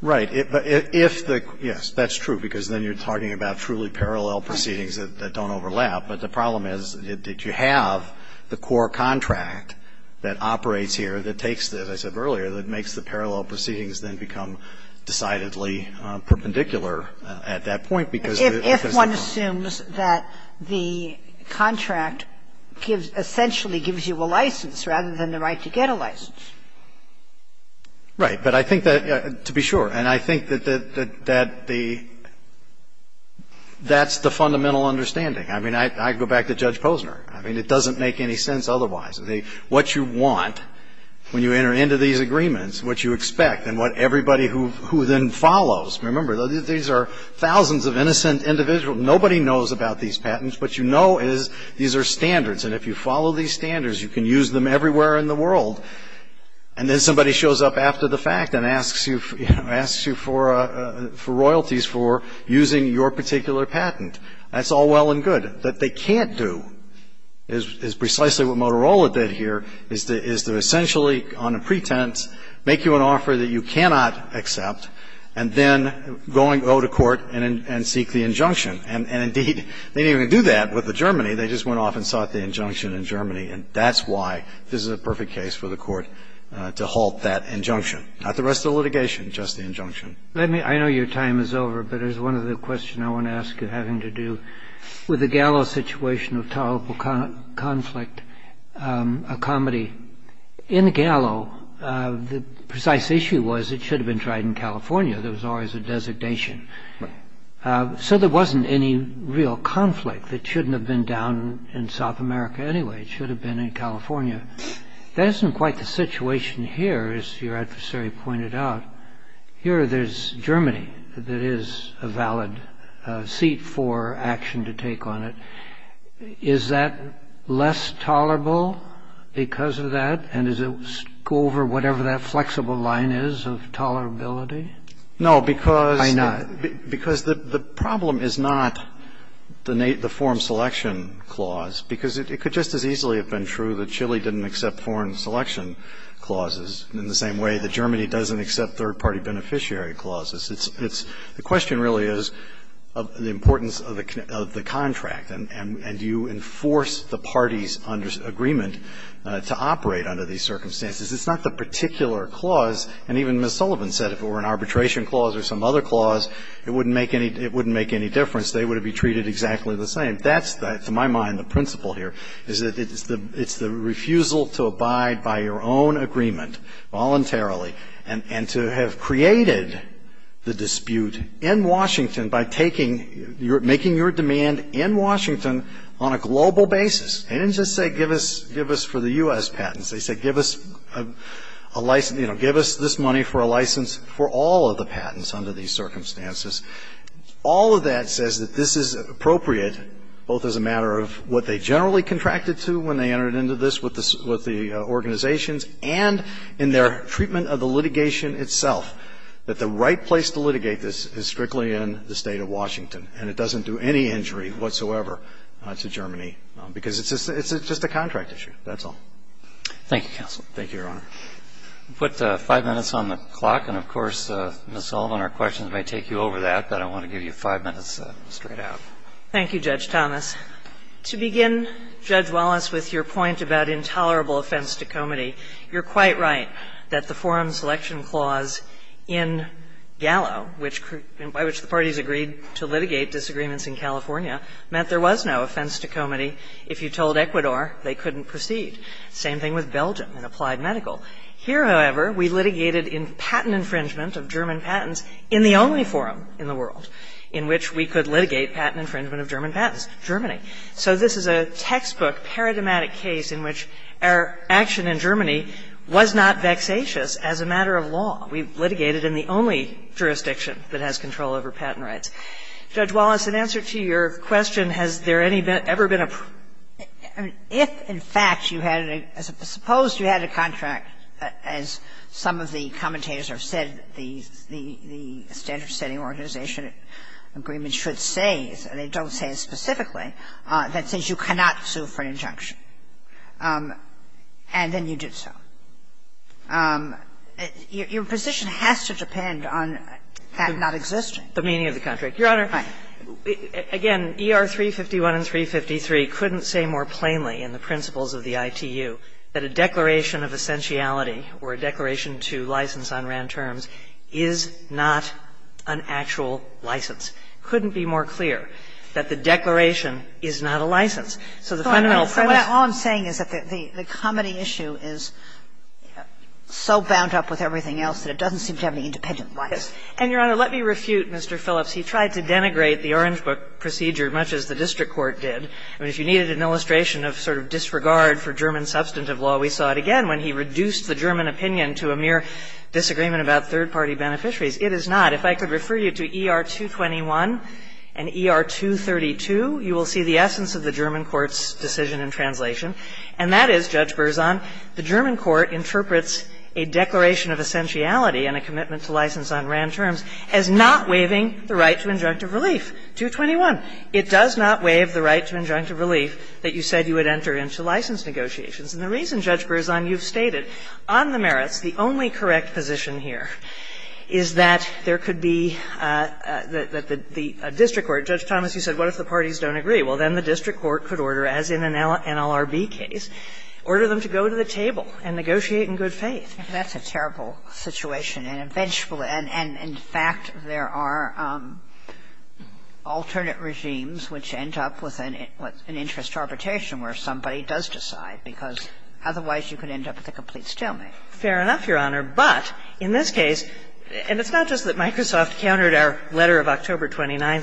Right. If the, yes, that's true, because then you're talking about truly parallel proceedings that don't overlap. But the problem is that you have the core contract that operates here that takes, as I said earlier, that makes the parallel proceedings then become decidedly perpendicular at that point. If one assumes that the contract essentially gives you a license rather than the right to get a license. Right. But I think that, to be sure, and I think that the, that's the fundamental understanding. I mean, I go back to Judge Posner. I mean, it doesn't make any sense otherwise. What you want when you enter into these agreements, what you expect, and what everybody who then follows. Remember, these are thousands of innocent individuals. Nobody knows about these patents. What you know is these are standards. And if you follow these standards, you can use them everywhere in the world. And then somebody shows up after the fact and asks you for royalties for using your particular patent. That's all well and good. What they can't do is precisely what Motorola did here, is to essentially, on a pretense, make you an offer that you cannot accept and then go to court and seek the injunction. And indeed, they didn't even do that with the Germany. They just went off and sought the injunction in Germany. And that's why this is a perfect case for the court to halt that injunction. Not the rest of the litigation, just the injunction. I know your time is over, but there's one other question I want to ask, having to do with the Gallo situation of tolerable conflict, a comedy. In Gallo, the precise issue was it should have been tried in California. There was always a designation. So there wasn't any real conflict. It shouldn't have been down in South America anyway. It should have been in California. That isn't quite the situation here, as your adversary pointed out. Here there's Germany. There is a valid seat for action to take on it. Is that less tolerable because of that? And does it go over whatever that flexible line is of tolerability? No, because the problem is not the foreign selection clause, because it could just as easily have been true that Chile didn't accept foreign selection clauses, in the same way that Germany doesn't accept third-party beneficiary clauses. The question really is the importance of the contract, and do you enforce the parties' agreement to operate under these circumstances? It's not the particular clause, and even Ms. Sullivan said if it were an arbitration clause or some other clause, it wouldn't make any difference. They would be treated exactly the same. To my mind, the principle here is that it's the refusal to abide by your own agreement voluntarily and to have created the dispute in Washington by making your demand in Washington on a global basis. They didn't just say give us for the U.S. patents. They said give us this money for a license for all of the patents under these circumstances. All of that says that this is appropriate, both as a matter of what they generally contracted to when they entered into this with the organizations, and in their treatment of the litigation itself, that the right place to litigate this is strictly in the state of Washington, and it doesn't do any injury whatsoever to Germany, because it's just a contract issue. That's all. Thank you, counsel. Thank you, Your Honor. We'll put five minutes on the clock, and, of course, Ms. Sullivan, our questions may take you over that, but I want to give you five minutes straight out. Thank you, Judge Thomas. To begin, Judge Wallace, with your point about intolerable offense to comity, you're quite right that the forum selection clause in Gallo, by which the parties agreed to litigate disagreements in California, meant there was no offense to comity. If you told Ecuador, they couldn't proceed. Same thing with Belgium in applied medical. Here, however, we litigated in patent infringement of German patents in the only forum in the world in which we could litigate patent infringement of German patents, Germany. So this is a textbook paradigmatic case in which our action in Germany was not vexatious as a matter of law. We litigated in the only jurisdiction that has control over patent rights. Judge Wallace, in answer to your question, has there ever been a... If, in fact, you had a... Suppose you had a contract, as some of the commentators have said, the standards-setting organization agreement should say, and they don't say it specifically, that says you cannot sue for an injunction. And then you did so. Your position has to depend on that not existing. The meaning of the contract. Your Honor... Right. Again, ER 351 and 353 couldn't say more plainly in the principles of the ITU that a declaration of essentiality or a declaration to license unran terms is not an actual license. Couldn't be more clear that the declaration is not a license. So the fundamental... All I'm saying is that the comedy issue is so bound up with everything else that it doesn't seem to have any independent license. And, Your Honor, let me refute Mr. Phillips. He tried to denigrate the Orange Book procedure as much as the district court did. If you needed an illustration of sort of disregard for German substantive law, we saw it again when he reduced the German opinion to a mere disagreement about third-party beneficiaries. It is not. If I could refer you to ER 221 and ER 232, you will see the essence of the German court's decision in translation. And that is, Judge Berzon, the German court interprets a declaration of essentiality and a commitment to license unran terms as not waiving the right to injunctive relief, 221. It does not waive the right to injunctive relief that you said you would enter into license negotiations. And the reason, Judge Berzon, you've stated, on the merits, the only correct position here is that there could be that the district court, Judge Thomas, you said, what if the parties don't agree? Well, then the district court could order, as in an NLRB case, order them to go to the table and negotiate in good faith. That's a terrible situation. And, in fact, there are alternate regimes which end up with an interest arbitration where somebody does decide, because otherwise you could end up with a complete stalemate. Fair enough, Your Honor. But in this case, and it's not just that Microsoft countered our letter of October 29,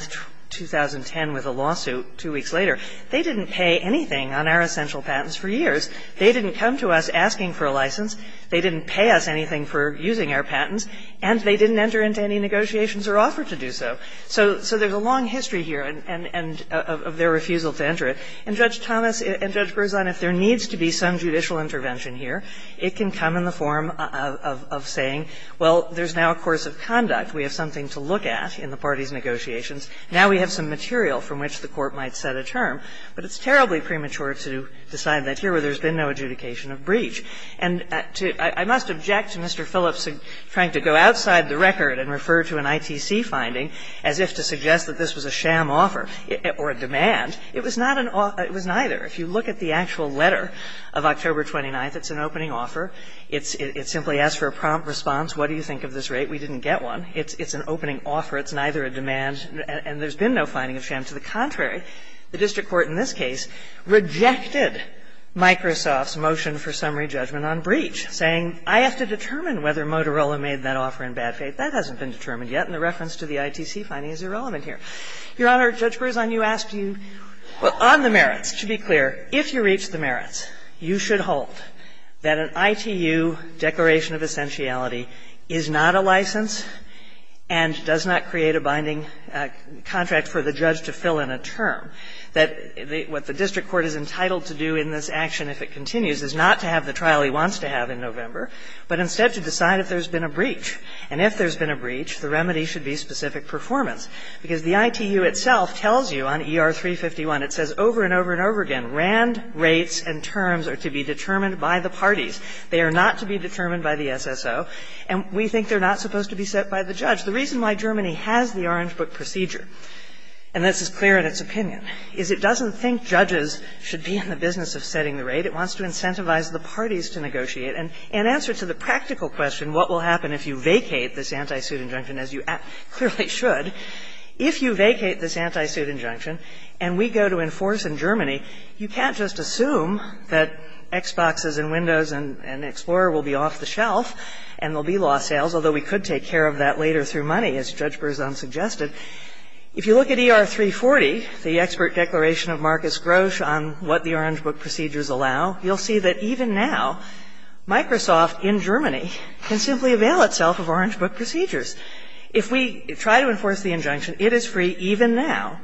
2010, with a lawsuit two weeks later. They didn't pay anything on our essential patents for years. They didn't come to us asking for a license. They didn't pay us anything for using our patents. And they didn't enter into any negotiations or offer to do so. So there's a long history here of their refusal to enter it. And, Judge Thomas and Judge Berzon, if there needs to be some judicial intervention here, it can come in the form of saying, well, there's now a course of conduct. We have something to look at in the parties' negotiations. Now we have some material from which the court might set a term. But it's terribly premature to decide that here where there's been no adjudication of breach. And I must object to Mr. Phillips trying to go outside the record and refer to an ITC finding as if to suggest that this was a sham offer or a demand. It was not an offer. It was neither. If you look at the actual letter of October 29, it's an opening offer. It simply asks for a prompt response. What do you think of this rate? We didn't get one. It's an opening offer. It's neither a demand and there's been no finding of sham. And to the contrary, the district court in this case rejected Microsoft's motion for summary judgment on breach, saying I have to determine whether Motorola made that offer in bad faith. That hasn't been determined yet. And the reference to the ITC finding is irrelevant here. Your Honor, Judge Berzon, you asked to be clear. If you reach the merits, you should hold that an ITU declaration of essentiality is not a license and does not create a binding contract for the judge to fill in a term. What the district court is entitled to do in this action if it continues is not to have the trial he wants to have in November, but instead to decide if there's been a breach. And if there's been a breach, the remedy should be specific performance. Because the ITU itself tells you on ER 351, it says over and over and over again, RAND rates and terms are to be determined by the parties. They are not to be determined by the SSO. And we think they're not supposed to be set by the judge. The reason why Germany has the Orange Book procedure, and this is clear in its opinion, is it doesn't think judges should be in the business of setting the rate. It wants to incentivize the parties to negotiate. And in answer to the practical question, what will happen if you vacate this anti-suit injunction, as you clearly should, if you vacate this anti-suit injunction and we go to enforce in Germany, you can't just assume that Xboxes and Windows and Explorer will be off the shelf and will be lost sales, although we could take care of that later through money, as Judge Berzon suggested. If you look at ER 340, the expert declaration of Marcus Grosch on what the Orange Book procedures allow, you'll see that even now, Microsoft in Germany can simply avail itself of Orange Book procedures. If we try to enforce the injunction, it is free even now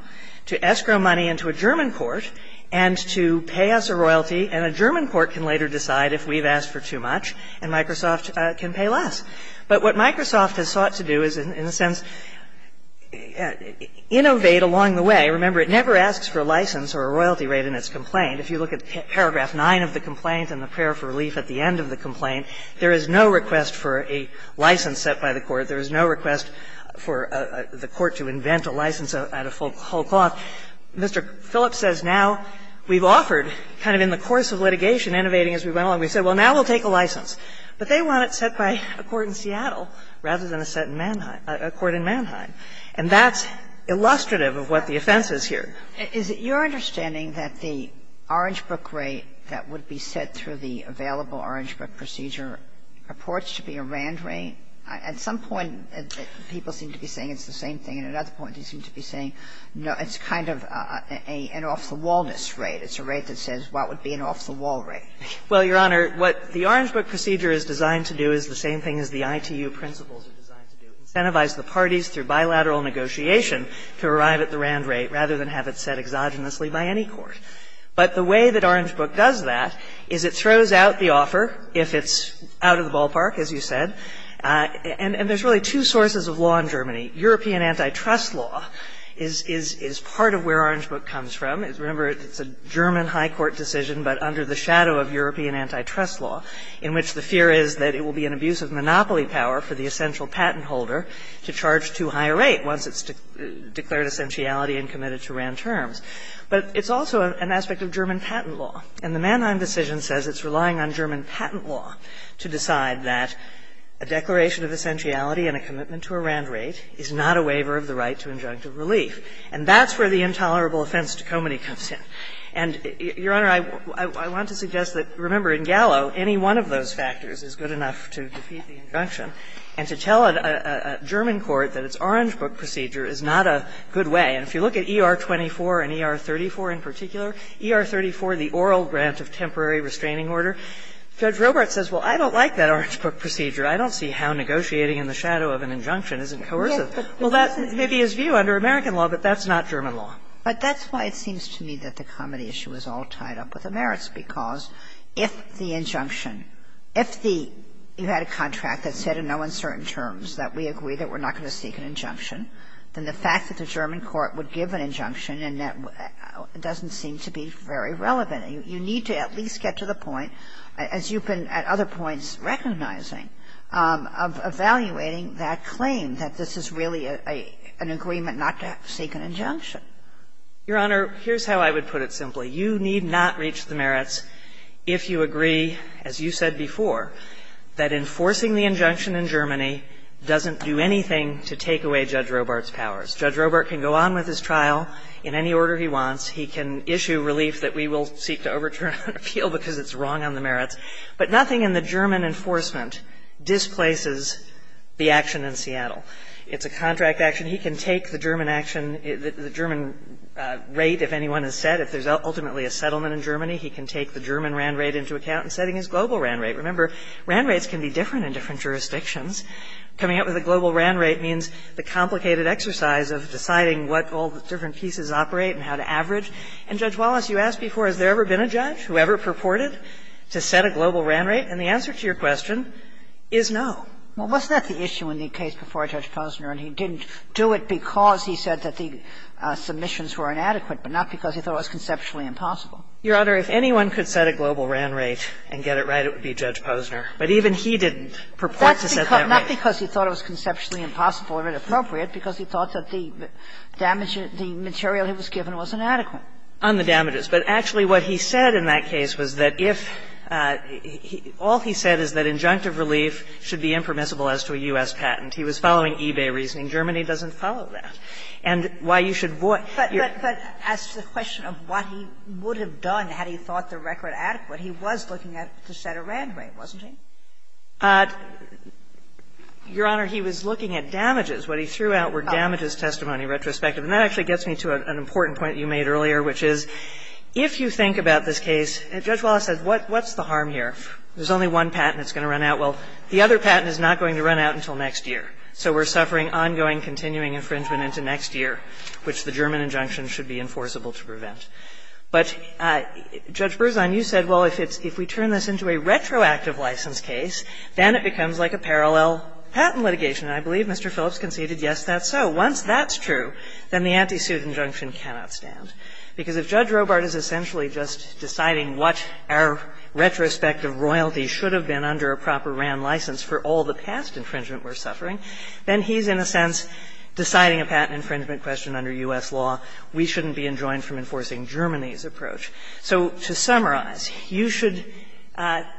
to escrow money into a German court and to pay us a royalty and a German court can later decide if we've asked for too much and Microsoft can pay less. But what Microsoft has sought to do is, in a sense, innovate along the way. Remember, it never asks for a license or a royalty rate in its complaint. If you look at paragraph 9 of the complaint and the prayer for relief at the end of the complaint, there is no request for a license set by the court. There is no request for the court to invent a license at a full cost. Well, Mr. Phillips says now we've offered, kind of in the course of litigation, innovating as we went along. We said, well, now we'll take a license. But they want it set by a court in Seattle rather than a court in Mannheim. And that's illustrative of what the offense is here. Is it your understanding that the Orange Book rate that would be set through the available Orange Book procedure purports to be a RAND rate? At some point, people seem to be saying it's the same thing, and at other points they seem to be saying, no, it's kind of an off-the-wallness rate. It's a rate that says what would be an off-the-wall rate. Well, Your Honor, what the Orange Book procedure is designed to do is the same thing as the ITU principles are designed to do, incentivize the parties through bilateral negotiation to arrive at the RAND rate rather than have it set exogenously by any court. But the way that Orange Book does that is it throws out the offer if it's out of the ballpark, as you said. And there's really two sources of law in Germany. European antitrust law is part of where Orange Book comes from. Remember, it's a German high court decision but under the shadow of European antitrust law, in which the fear is that it will be an abuse of monopoly power for the essential patent holder to charge too high a rate once it's declared essentiality and committed to RAND terms. But it's also an aspect of German patent law. And the Mannheim decision says it's relying on German patent law to decide that a declaration of essentiality and a commitment to a RAND rate is not a waiver of the right to injunctive relief. And that's where the intolerable offense to comity comes in. And, Your Honor, I want to suggest that, remember, in Gallo, any one of those factors is good enough to defeat the injunction. And to tell a German court that its Orange Book procedure is not a good way, and if you look at ER-24 and ER-34 in particular, ER-34, the oral grant of temporary restraining order, Judge Robert says, well, I don't like that Orange Book procedure. I don't see how negotiating in the shadow of an injunction isn't coercive. Well, that may be his view under American law, but that's not German law. But that's why it seems to me that the comity issue is all tied up with the merits because if the injunction, if you had a contract that said in no uncertain terms that we agree that we're not going to seek an injunction, then the fact that the German court would give an injunction doesn't seem to be very relevant. You need to at least get to the point, as you've been at other points recognizing, of evaluating that claim that this is really an agreement not to seek an injunction. Your Honor, here's how I would put it simply. You need not reach the merits if you agree, as you said before, that enforcing the injunction in Germany doesn't do anything to take away Judge Robert's powers. Judge Robert can go on with his trial in any order he wants. He can issue relief that we will seek to overturn an appeal because it's wrong on the merits. But nothing in the German enforcement displaces the action in Seattle. It's a contract action. He can take the German action, the German rate, if anyone has said, if there's ultimately a settlement in Germany, he can take the German RAND rate into account in setting his global RAND rate. Remember, RAND rates can be different in different jurisdictions. Coming up with a global RAND rate means the complicated exercise of deciding what all the different pieces operate and how to average. And Judge Wallace, you asked before, has there ever been a judge who ever purported to set a global RAND rate? And the answer to your question is no. Well, wasn't that the issue in the case before Judge Posner, and he didn't do it because he said that the submissions were inadequate, but not because he thought it was conceptually impossible? Your Honor, if anyone could set a global RAND rate and get it right, it would be Judge Posner. But even he didn't purport to set that rate. Not because he thought it was conceptually impossible or inappropriate, because he thought that the material he was given was inadequate. On the damages. But actually, what he said in that case was that if – all he said is that injunctive relief should be impermissible as to a U.S. patent. He was following eBay reasoning. Germany doesn't follow that. And why you should – But as to the question of what he would have done had he thought the record adequate, he was looking to set a RAND rate, wasn't he? Your Honor, he was looking at damages. What he threw out were damages testimony retrospective. And that actually gets me to an important point you made earlier, which is, if you think about this case, and Judge Wallace said, what's the harm here? There's only one patent that's going to run out. Well, the other patent is not going to run out until next year. So we're suffering ongoing, continuing infringement until next year, which the German injunction should be enforceable to prevent. But, Judge Berzon, you said, well, if we turn this into a retroactive license case, then it becomes like a parallel patent litigation. And I believe Mr. Phillips conceded yes, that's so. Once that's true, then the anti-suit injunction cannot stand. Because if Judge Robart is essentially just deciding what our retrospective royalty should have been under a proper RAND license for all the past infringement we're suffering, then he's, in a sense, deciding a patent infringement question under U.S. law. We shouldn't be enjoined from enforcing Germany's approach. So to summarize, you should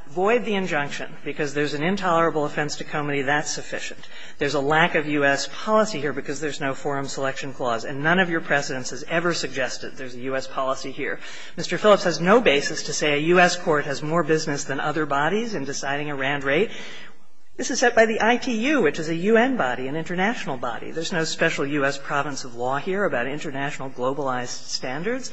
void the injunction because there's an intolerable offense to come to me that's sufficient. There's a lack of U.S. policy here because there's no forum selection clause. And none of your precedents has ever suggested there's a U.S. policy here. Mr. Phillips has no basis to say a U.S. court has more business than other bodies in deciding a RAND rate. This is set by the ITU, which is a U.N. body, an international body. There's no special U.S. province of law here about international globalized standards.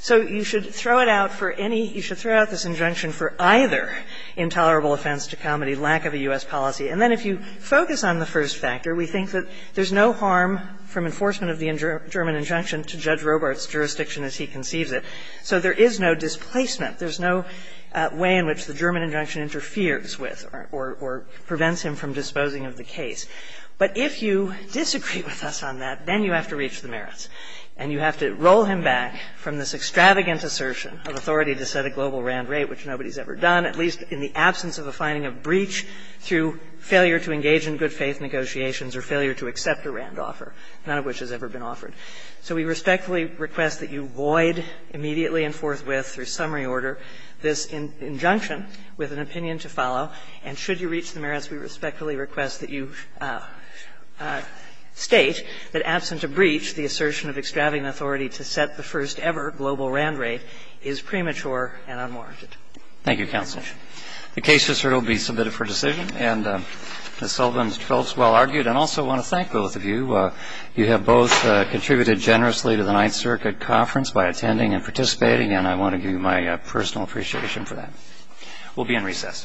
So you should throw it out for any – you should throw out this injunction for either intolerable offense to come or the lack of a U.S. policy. And then if you focus on the first factor, we think that there's no harm from enforcement of the German injunction to Judge Robart's jurisdiction as he conceives it. So there is no displacement. There's no way in which the German injunction interferes with or prevents him from disposing of the case. But if you disagree with us on that, then you have to reach the merits. And you have to roll him back from this extravagant assertion of authority to set a global RAND rate, which nobody's ever done, at least in the absence of a finding of breach through failure to engage in good-faith negotiations or failure to accept a RAND offer, none of which has ever been offered. So we respectfully request that you void immediately and forthwith, through summary order, this injunction with an opinion to follow. And should you reach the merits, we respectfully request that you state that, absent a breach, the assertion of extravagant authority to set the first-ever global RAND rate is premature and unmarked. Thank you, Counselor. The case is here to be submitted for decision. And Ms. Sullivan felt well-argued. And I also want to thank both of you. You have both contributed generously to the Ninth Circuit Conference by attending and participating, and I want to give you my personal appreciation for that. We'll be in recess.